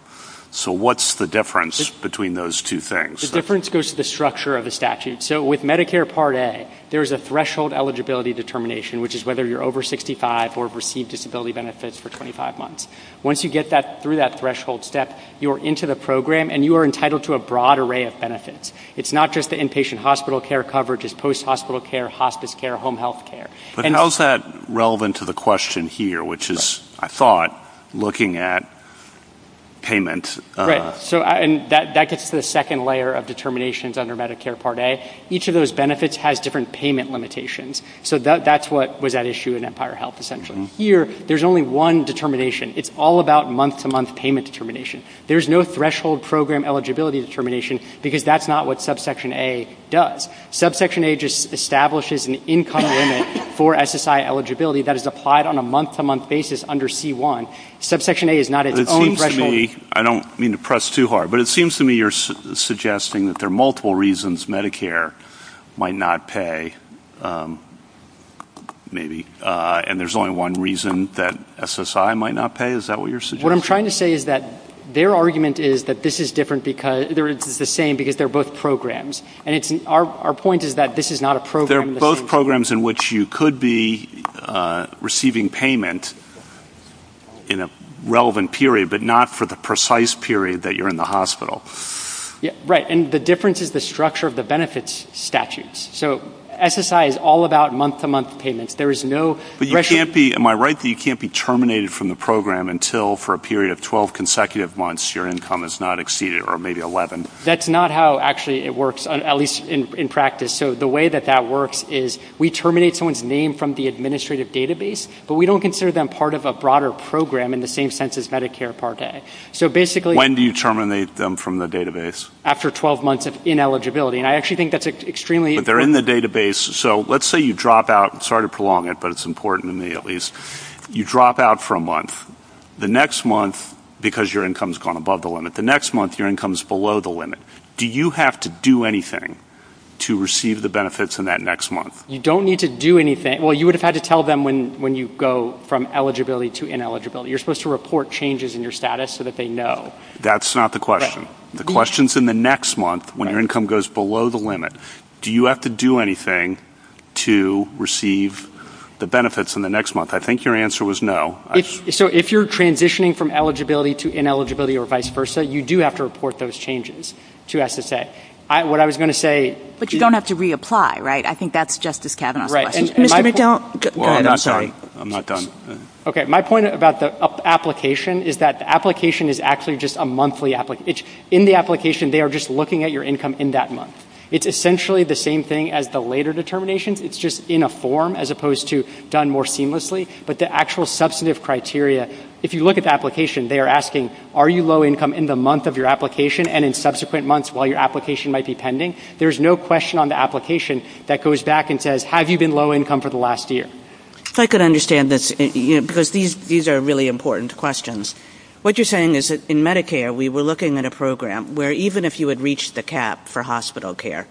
So what's the difference between those two things? The difference goes to the structure of the statute. So with Medicare Part A, there's a threshold eligibility determination, which is whether you're over 65 or have received disability benefits for 25 months. Once you get through that threshold step, you're into the program and you are entitled to a broad array of benefits. It's not just the inpatient hospital care coverage, it's post-hospital care, hospice care, home health care. But how is that relevant to the question here, which is, I thought, looking at payments? Right. So that gets to the second layer of determinations under Medicare Part A. Each of those benefits has different payment limitations. So that's what was at issue in Empire Health, essentially. Here, there's only one determination. It's all about month-to-month payment determination. There's no threshold program eligibility determination because that's not what Subsection A does. Subsection A just establishes an income limit for SSI eligibility that is applied on a month-to-month basis under C-1. Subsection A is not its own threshold. I don't mean to press too hard, but it seems to me you're suggesting that there are multiple reasons Medicare might not pay, maybe. And there's only one reason that SSI might not pay? Is that what you're suggesting? What I'm trying to say is that their argument is that this is different because they're the same because they're both programs. Our point is that this is not a program. They're both programs in which you could be receiving payment in a relevant period, but not for the precise period that you're in the hospital. Right. And the difference is the structure of the benefits statutes. So SSI is all about month-to-month payment. There is no threshold. Am I right that you can't be terminated from the program until, for a period of 12 consecutive months, your income is not exceeded, or maybe 11? That's not how, actually, it works, at least in practice. So the way that that works is we terminate someone's name from the administrative database, but we don't consider them part of a broader program in the same sense as Medicare Part A. When do you terminate them from the database? After 12 months of ineligibility, and I actually think that's extremely important. But they're in the database. So let's say you drop out. Sorry to prolong it, but it's important to me, at least. You drop out for a month. The next month, because your income has gone above the limit. The next month, your income is below the limit. Do you have to do anything to receive the benefits in that next month? You don't need to do anything. Well, you would have had to tell them when you go from eligibility to ineligibility. You're supposed to report changes in your status so that they know. That's not the question. The question is in the next month, when your income goes below the limit, do you have to do anything to receive the benefits in the next month? I think your answer was no. So if you're transitioning from eligibility to ineligibility or vice versa, you do have to report those changes to SSA. What I was going to say – But you don't have to reapply, right? I think that's Justice Kavanaugh's question. Well, I'm not done. I'm not done. Okay, my point about the application is that the application is actually just a monthly application. In the application, they are just looking at your income in that month. It's essentially the same thing as the later determinations. It's just in a form as opposed to done more seamlessly. But the actual substantive criteria, if you look at the application, they are asking, are you low income in the month of your application and in subsequent months while your application might be pending? There's no question on the application that goes back and says, have you been low income for the last year? If I could understand this, because these are really important questions. What you're saying is that in Medicare, we were looking at a program where even if you had reached the cap for hospital care,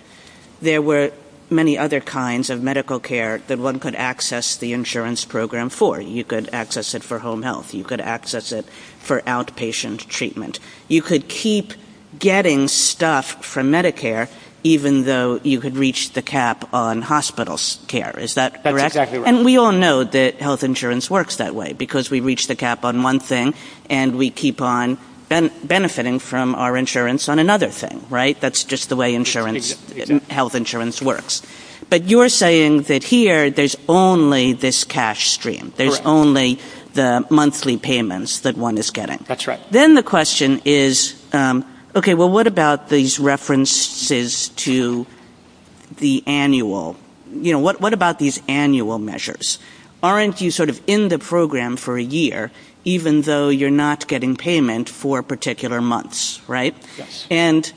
there were many other kinds of medical care that one could access the insurance program for. You could access it for home health. You could access it for outpatient treatment. You could keep getting stuff from Medicare even though you could reach the cap on hospital care. Is that correct? That's exactly right. And we all know that health insurance works that way because we reach the cap on one thing and we keep on benefiting from our insurance on another thing, right? That's just the way health insurance works. But you're saying that here, there's only this cash stream. There's only the monthly payments that one is getting. That's right. Then the question is, okay, well, what about these references to the annual? What about these annual measures? Aren't you sort of in the program for a year, even though you're not getting payment for particular months, right? Yes. And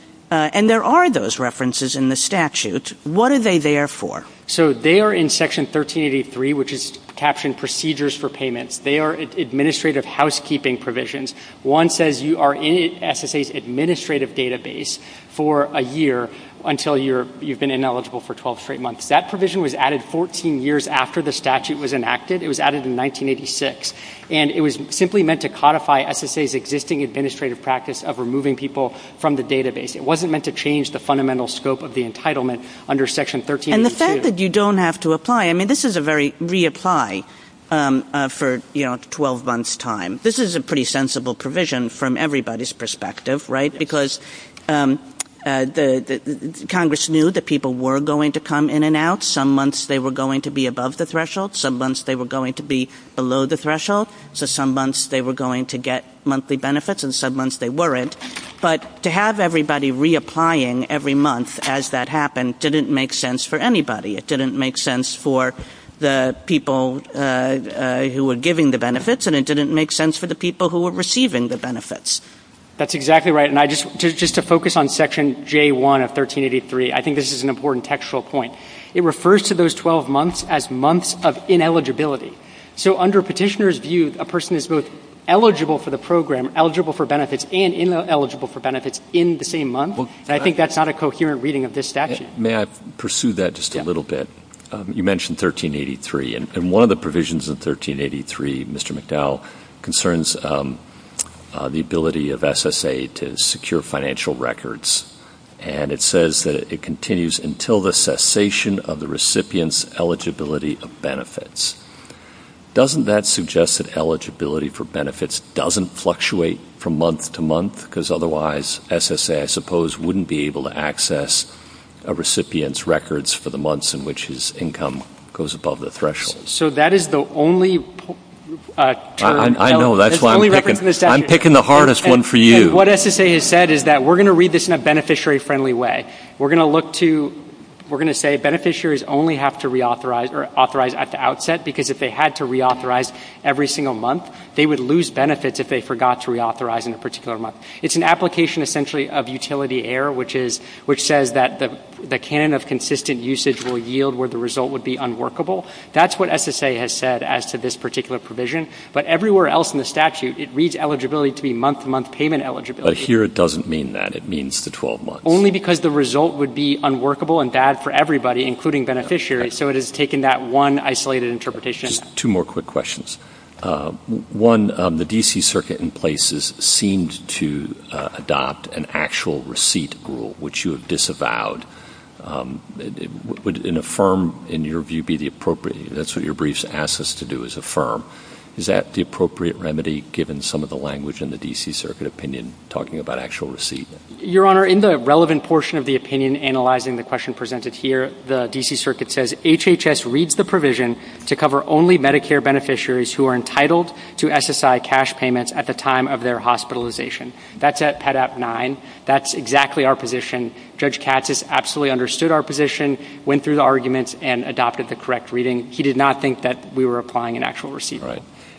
there are those references in the statute. What are they there for? So they are in Section 1383, which is captioned procedures for payments. They are administrative housekeeping provisions. One says you are in SSA's administrative database for a year until you've been ineligible for 12 straight months. That provision was added 14 years after the statute was enacted. It was added in 1986. And it was simply meant to codify SSA's existing administrative practice of removing people from the database. It wasn't meant to change the fundamental scope of the entitlement under Section 1383. And the fact that you don't have to apply, I mean, this is a very reapply for 12 months' time. This is a pretty sensible provision from everybody's perspective, right? Because Congress knew that people were going to come in and out. Some months they were going to be above the threshold. Some months they were going to be below the threshold. So some months they were going to get monthly benefits, and some months they weren't. But to have everybody reapplying every month as that happened didn't make sense for anybody. It didn't make sense for the people who were giving the benefits, and it didn't make sense for the people who were receiving the benefits. That's exactly right. And just to focus on Section J1 of 1383, I think this is an important textual point. It refers to those 12 months as months of ineligibility. So under a petitioner's view, a person is both eligible for the program, eligible for benefits, and ineligible for benefits in the same month, and I think that's not a coherent reading of this statute. May I pursue that just a little bit? You mentioned 1383, and one of the provisions in 1383, Mr. McDowell, concerns the ability of SSA to secure financial records, and it says that it continues until the cessation of the recipient's eligibility of benefits. Doesn't that suggest that eligibility for benefits doesn't fluctuate from month to month? Because otherwise SSA, I suppose, wouldn't be able to access a recipient's records for the months in which his income goes above the threshold. So that is the only term. I know. That's why I'm picking the hardest one for you. What SSA has said is that we're going to read this in a beneficiary-friendly way. We're going to say beneficiaries only have to reauthorize or authorize at the outset because if they had to reauthorize every single month, they would lose benefits if they forgot to reauthorize in a particular month. It's an application essentially of utility error, which says that the canon of consistent usage will yield where the result would be unworkable. That's what SSA has said as to this particular provision, but everywhere else in the statute it reads eligibility to be month-to-month payment eligibility. But here it doesn't mean that. It means the 12 months. Only because the result would be unworkable and bad for everybody, including beneficiaries, so it has taken that one isolated interpretation. Just two more quick questions. One, the D.C. Circuit in places seems to adopt an actual receipt rule, which you have disavowed. Would an affirm, in your view, be the appropriate? That's what your briefs ask us to do is affirm. Is that the appropriate remedy given some of the language in the D.C. Circuit opinion talking about actual receipt? Your Honor, in the relevant portion of the opinion analyzing the question presented here, the D.C. Circuit says HHS reads the provision to cover only Medicare beneficiaries who are entitled to SSI cash payments at the time of their hospitalization. That's at Pet Act 9. That's exactly our position. Judge Katz has absolutely understood our position, went through the arguments, and adopted the correct reading. He did not think that we were applying an actual receipt.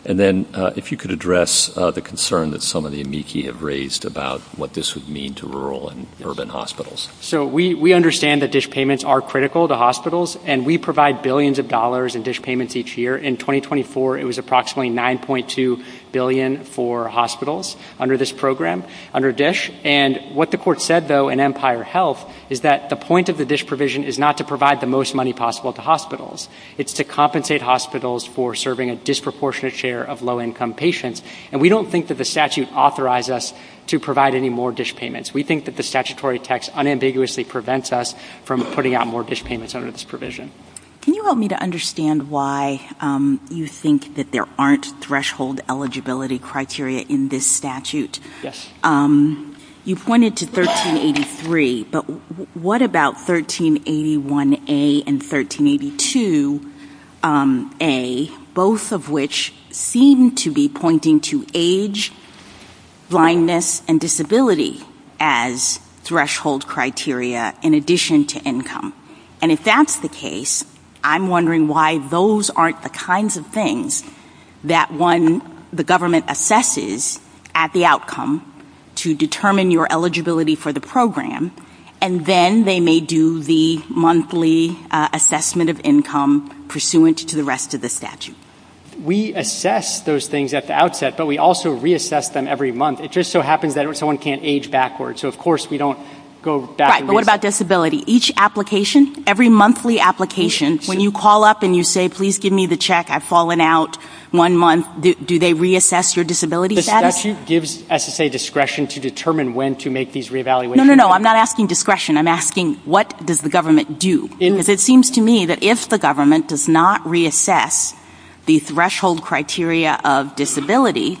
And then if you could address the concern that some of the amici have raised about what this would mean to rural and urban hospitals. So we understand that DISH payments are critical to hospitals, and we provide billions of dollars in DISH payments each year. In 2024, it was approximately $9.2 billion for hospitals under this program, under DISH. And what the court said, though, in Empire Health, is that the point of the DISH provision is not to provide the most money possible to hospitals. It's to compensate hospitals for serving a disproportionate share of low-income patients. And we don't think that the statute authorized us to provide any more DISH payments. We think that the statutory text unambiguously prevents us from putting out more DISH payments under this provision. Can you help me to understand why you think that there aren't threshold eligibility criteria in this statute? Yes. You pointed to 1383, but what about 1381A and 1382A, both of which seem to be pointing to age, blindness, and disability as threshold criteria in addition to income? And if that's the case, I'm wondering why those aren't the kinds of things that the government assesses at the outcome to determine your eligibility for the program, and then they may do the monthly assessment of income pursuant to the rest of the statute. We assess those things at the outset, but we also reassess them every month. It just so happens that someone can't age backwards, so of course we don't go back and do it. Every monthly application, when you call up and you say, please give me the check, I've fallen out one month, do they reassess your disability status? The statute gives SSA discretion to determine when to make these re-evaluations. No, no, no. I'm not asking discretion. I'm asking, what does the government do? Because it seems to me that if the government does not reassess the threshold criteria of disability,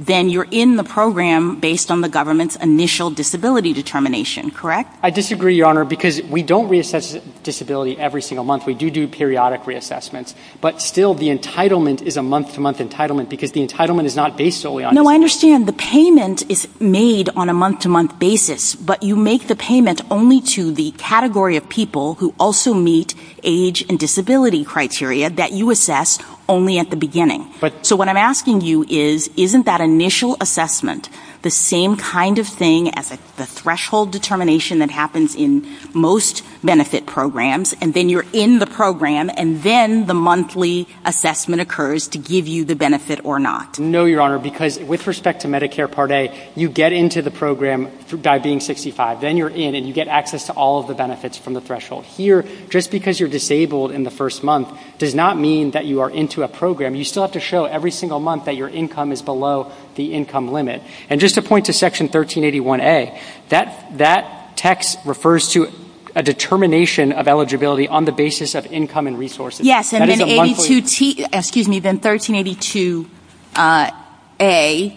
then you're in the program based on the government's initial disability determination, correct? I disagree, Your Honor, because we don't reassess disability every single month. We do do periodic reassessments, but still the entitlement is a month-to-month entitlement because the entitlement is not based solely on... No, I understand. The payment is made on a month-to-month basis, but you make the payment only to the category of people who also meet age and disability criteria that you assess only at the beginning. So what I'm asking you is, isn't that initial assessment the same kind of thing as the threshold determination that happens in most benefit programs, and then you're in the program, and then the monthly assessment occurs to give you the benefit or not? No, Your Honor, because with respect to Medicare Part A, you get into the program by being 65. Then you're in, and you get access to all of the benefits from the threshold. Here, just because you're disabled in the first month does not mean that you are into a program. You still have to show every single month that your income is below the income limit. And just to point to Section 1381A, that text refers to a determination of eligibility on the basis of income and resources. Yes, and then 1382A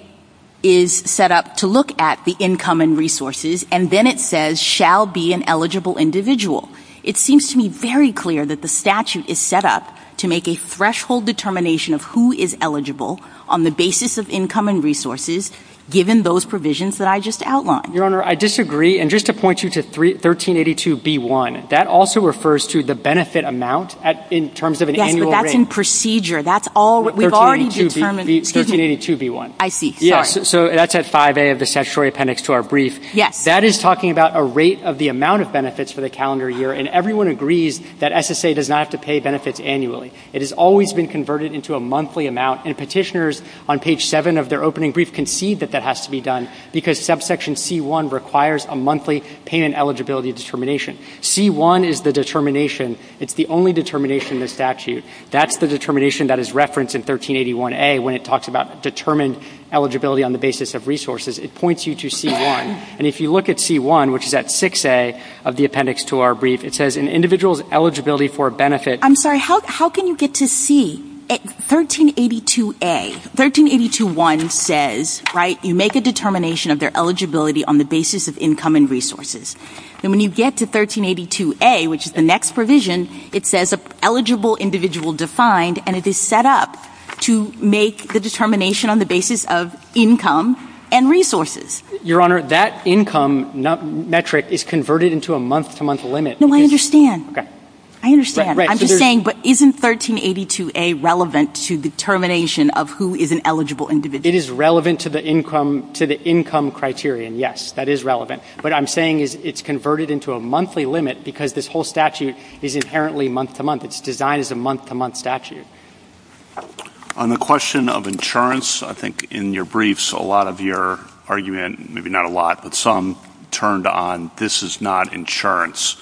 is set up to look at the income and resources, and then it says, shall be an eligible individual. It seems to me very clear that the statute is set up to make a threshold determination of who is eligible on the basis of income and resources, given those provisions that I just outlined. Your Honor, I disagree, and just to point you to 1382B1, that also refers to the benefit amount in terms of an annual rate. Yes, but that's in procedure. That's all we've already determined. 1382B1. I see. Yes, so that's at 5A of the statutory appendix to our brief. That is talking about a rate of the amount of benefits for the calendar year, and everyone agrees that SSA does not have to pay benefits annually. It has always been converted into a monthly amount, and petitioners on page 7 of their opening brief concede that that has to be done, because subsection C1 requires a monthly payment eligibility determination. C1 is the determination. It's the only determination in the statute. That's the determination that is referenced in 1381A when it talks about determined eligibility on the basis of resources. It points you to C1, and if you look at C1, which is at 6A of the appendix to our brief, it says an individual's eligibility for a benefit. I'm sorry, how can you get to C? 1382A. 1382A says, right, you make a determination of their eligibility on the basis of income and resources. And when you get to 1382A, which is the next provision, it says an eligible individual defined, and it is set up to make the determination on the basis of income and resources. Your Honor, that income metric is converted into a month-to-month limit. No, I understand. I understand. I'm just saying, but isn't 1382A relevant to determination of who is an eligible individual? It is relevant to the income criterion, yes. That is relevant. What I'm saying is it's converted into a monthly limit because this whole statute is inherently month-to-month. It's designed as a month-to-month statute. On the question of insurance, I think in your briefs, a lot of your argument, maybe not a lot, but some turned on, this is not insurance.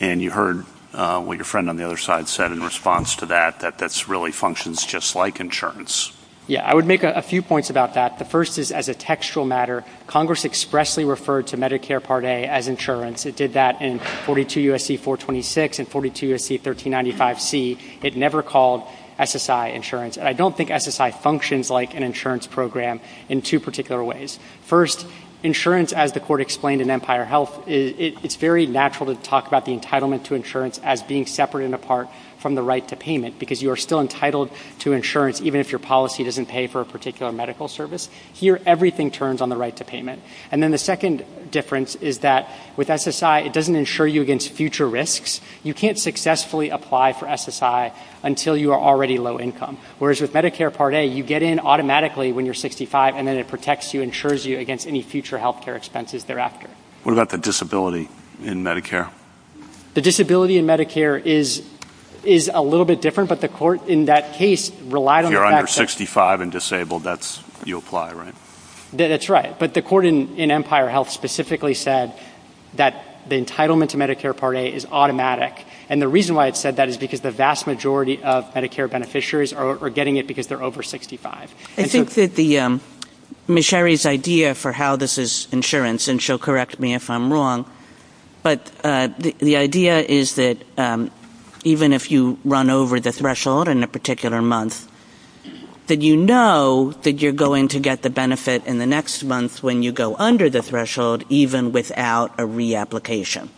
And you heard what your friend on the other side said in response to that, that that really functions just like insurance. Yeah, I would make a few points about that. The first is as a textual matter, Congress expressly referred to Medicare Part A as insurance. It did that in 42 U.S.C. 426 and 42 U.S.C. 1395C. It never called SSI insurance. And I don't think SSI functions like an insurance program in two particular ways. First, insurance, as the Court explained in Empire Health, it's very natural to talk about the entitlement to insurance as being separate and apart from the right to payment because you are still entitled to insurance even if your policy doesn't pay for a particular medical service. Here, everything turns on the right to payment. And then the second difference is that with SSI, it doesn't insure you against future risks. You can't successfully apply for SSI until you are already low income. Whereas with Medicare Part A, you get in automatically when you're 65, and then it protects you, insures you against any future health care expenses thereafter. What about the disability in Medicare? The disability in Medicare is a little bit different, but the Court in that case relied on the fact that... If you're under 65 and disabled, you apply, right? That's right. But the Court in Empire Health specifically said that the entitlement to Medicare Part A is automatic. And the reason why it said that is because the vast majority of Medicare beneficiaries are getting it because they're over 65. I think that Ms. Sherry's idea for how this is insurance, and she'll correct me if I'm wrong, but the idea is that even if you run over the threshold in a particular month, that you know that you're going to get the benefit in the next month when you go under the threshold, even without a reapplication.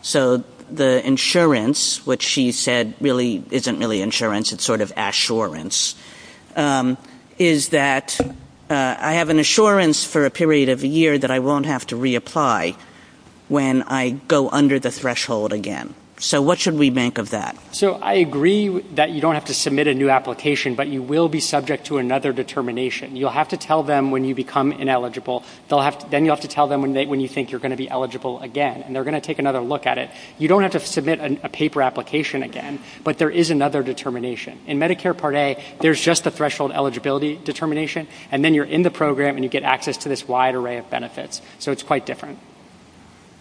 So the insurance, which she said really isn't really insurance, it's sort of assurance, is that I have an assurance for a period of a year that I won't have to reapply when I go under the threshold again. So what should we make of that? So I agree that you don't have to submit a new application, but you will be subject to another determination. You'll have to tell them when you become ineligible. Then you'll have to tell them when you think you're going to be eligible again, and they're going to take another look at it. You don't have to submit a paper application again, but there is another determination. In Medicare Part A, there's just a threshold eligibility determination, and then you're in the program and you get access to this wide array of benefits. So it's quite different.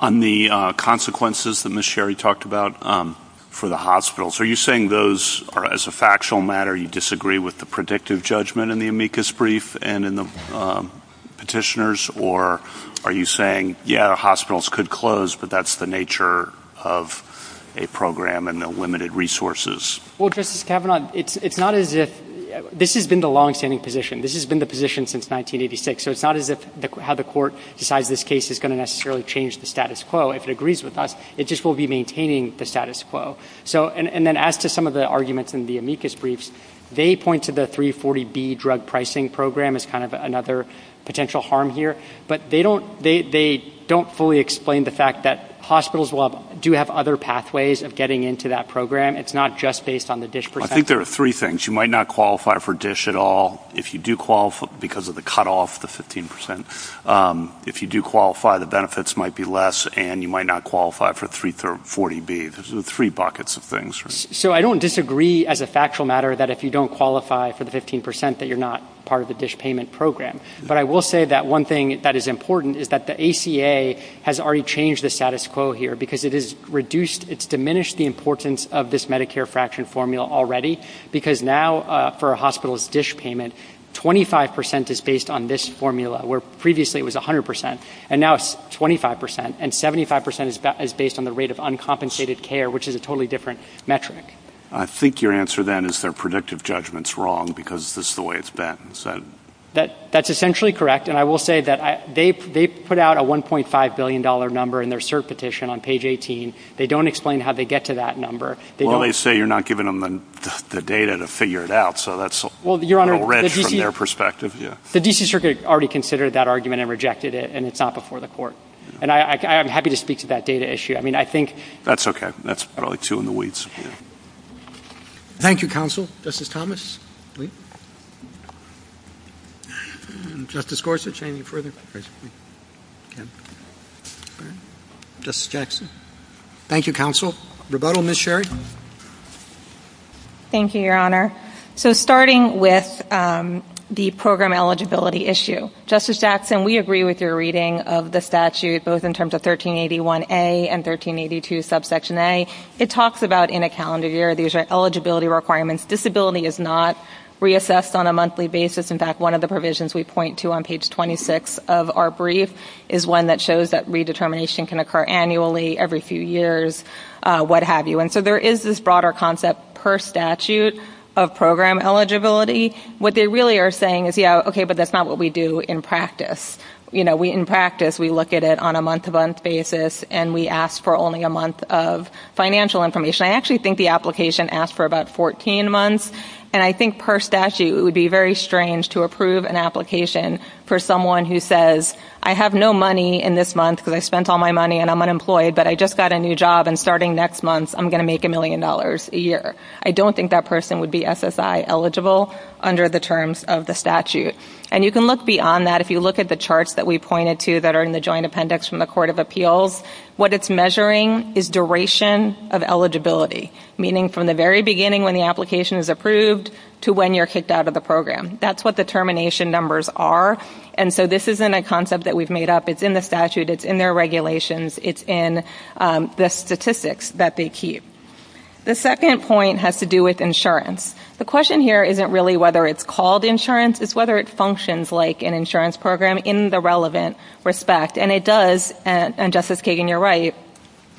On the consequences that Ms. Sherry talked about for the hospitals, are you saying those are, as a factual matter, you disagree with the predictive judgment in the amicus brief and in the petitioners, or are you saying, yeah, hospitals could close, but that's the nature of a program and the limited resources? Well, Justice Kavanaugh, it's not as if this has been the longstanding position. This has been the position since 1986, so it's not as if how the court decides this case is going to necessarily change the status quo. If it agrees with us, it just will be maintaining the status quo. And then as to some of the arguments in the amicus briefs, they point to the 340B drug pricing program as kind of another potential harm here, but they don't fully explain the fact that hospitals do have other pathways of getting into that program. I think there are three things. You might not qualify for DISH at all because of the cutoff to 15%. If you do qualify, the benefits might be less, and you might not qualify for 340B. There's three buckets of things. So I don't disagree as a factual matter that if you don't qualify for the 15% that you're not part of the DISH payment program, but I will say that one thing that is important is that the ACA has already changed the status quo here because it's diminished the importance of this Medicare fraction formula already because now for a hospital's DISH payment, 25% is based on this formula, where previously it was 100%, and now it's 25%, and 75% is based on the rate of uncompensated care, which is a totally different metric. I think your answer then is their predictive judgment's wrong because this is the way it's been said. That's essentially correct, and I will say that they put out a $1.5 billion number in their cert petition on page 18. They don't explain how they get to that number. Well, they say you're not giving them the data to figure it out, so that's a little red from their perspective. The D.C. Circuit already considered that argument and rejected it, and it's not before the court, and I am happy to speak to that data issue. That's okay. That's probably too in the weeds for you. Thank you, Counsel. Justice Thomas? Justice Gorsuch, any further questions? Justice Jackson? Thank you, Counsel. Rebuttal, Ms. Sherry? Thank you, Your Honor. So starting with the program eligibility issue, Justice Jackson, we agree with your reading of the statute, both in terms of 1381A and 1382 subsection A. It talks about in a calendar year, these are eligibility requirements. Disability is not reassessed on a monthly basis. In fact, one of the provisions we point to on page 26 of our brief is one that shows that redetermination can occur annually, every few years, what have you. And so there is this broader concept per statute of program eligibility. What they really are saying is, yeah, okay, but that's not what we do in practice. You know, in practice, we look at it on a month-to-month basis, and we ask for only a month of financial information. I actually think the application asked for about 14 months, and I think per statute it would be very strange to approve an application for someone who says, I have no money in this month because I spent all my money and I'm unemployed, but I just got a new job, and starting next month I'm going to make a million dollars a year. I don't think that person would be SSI eligible under the terms of the statute. And you can look beyond that. If you look at the charts that we pointed to that are in the Joint Appendix from the Court of Appeals, what it's measuring is duration of eligibility, meaning from the very beginning when the application is approved to when you're kicked out of the program. That's what determination numbers are. And so this isn't a concept that we've made up. It's in the statute. It's in their regulations. It's in the statistics that they keep. The second point has to do with insurance. The question here isn't really whether it's called insurance. It's whether it functions like an insurance program in the relevant respect. And it does, and Justice Kagan, you're right.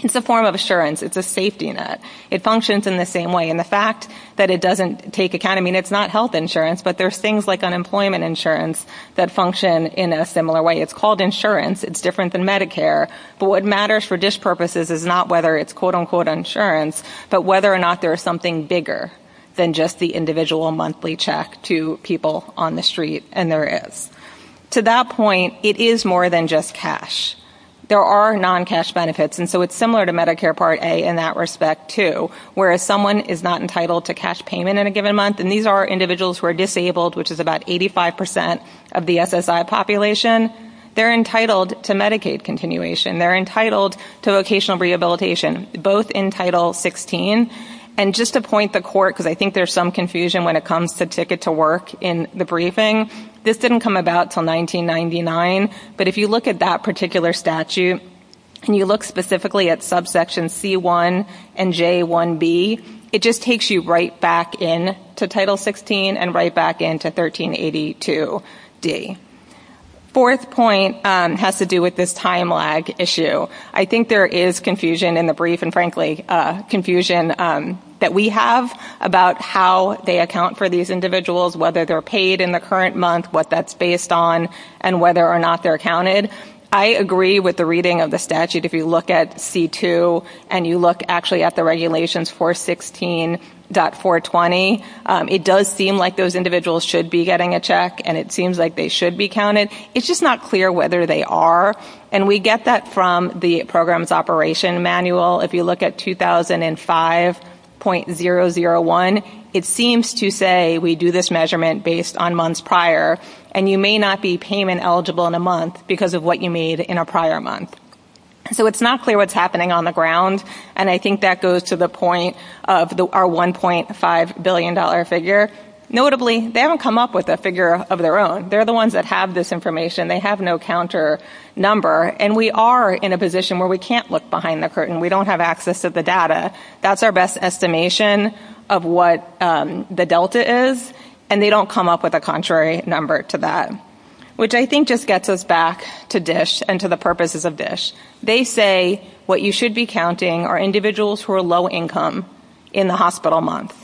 It's a form of insurance. It's a safety net. It functions in the same way. And the fact that it doesn't take account, I mean, it's not health insurance, but there's things like unemployment insurance that function in a similar way. It's called insurance. It's different than Medicare. But what matters for dish purposes is not whether it's quote, unquote, insurance, but whether or not there is something bigger than just the individual monthly check to people on the street, and there is. To that point, it is more than just cash. There are non-cash benefits. And so it's similar to Medicare Part A in that respect, too, where if someone is not entitled to cash payment in a given month, and these are individuals who are disabled, which is about 85% of the SSI population, they're entitled to Medicaid continuation. They're entitled to vocational rehabilitation, both in Title 16. And just to point the court, because I think there's some confusion when it comes to in the briefing, this didn't come about until 1999, but if you look at that particular statute and you look specifically at subsection C1 and J1B, it just takes you right back in to Title 16 and right back in to 1382D. Fourth point has to do with this time lag issue. I think there is confusion in the brief, and frankly, confusion that we have about how they account for these individuals, whether they're paid in the current month, what that's based on, and whether or not they're counted. I agree with the reading of the statute. If you look at C2 and you look actually at the regulations 416.420, it does seem like those individuals should be getting a check, and it seems like they should be counted. It's just not clear whether they are. And we get that from the program's operation manual. If you look at 2005.001, it seems to say we do this measurement based on months prior, and you may not be payment eligible in a month because of what you made in a prior month. So it's not clear what's happening on the ground, and I think that goes to the point of our $1.5 billion figure. Notably, they haven't come up with a figure of their own. They're the ones that have this information. They have no counter number, and we are in a position where we can't look behind the curtain. We don't have access to the data. That's our best estimation of what the delta is, and they don't come up with a contrary number to that, which I think just gets us back to DISH and to the purposes of DISH. They say what you should be counting are individuals who are low income in the hospital month,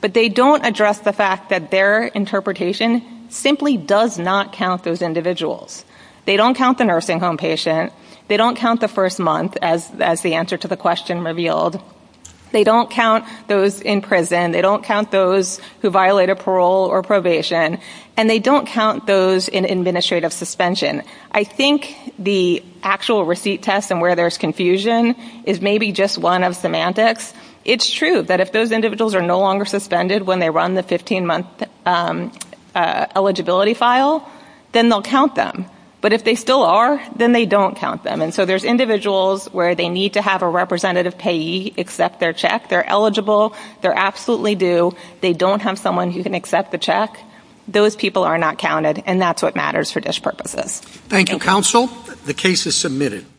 but they don't address the fact that their interpretation simply does not count those individuals. They don't count the nursing home patient. They don't count the first month, as the answer to the question revealed. They don't count those in prison. They don't count those who violate a parole or probation, and they don't count those in administrative suspension. I think the actual receipt test and where there's confusion is maybe just one of semantics. It's true that if those individuals are no longer suspended when they run the 15-month eligibility file, then they'll count them. But if they still are, then they don't count them. And so there's individuals where they need to have a representative payee accept their check. They're eligible. They're absolutely due. They don't have someone who can accept the check. Those people are not counted, and that's what matters for DISH purposes. Thank you, counsel. The case is submitted.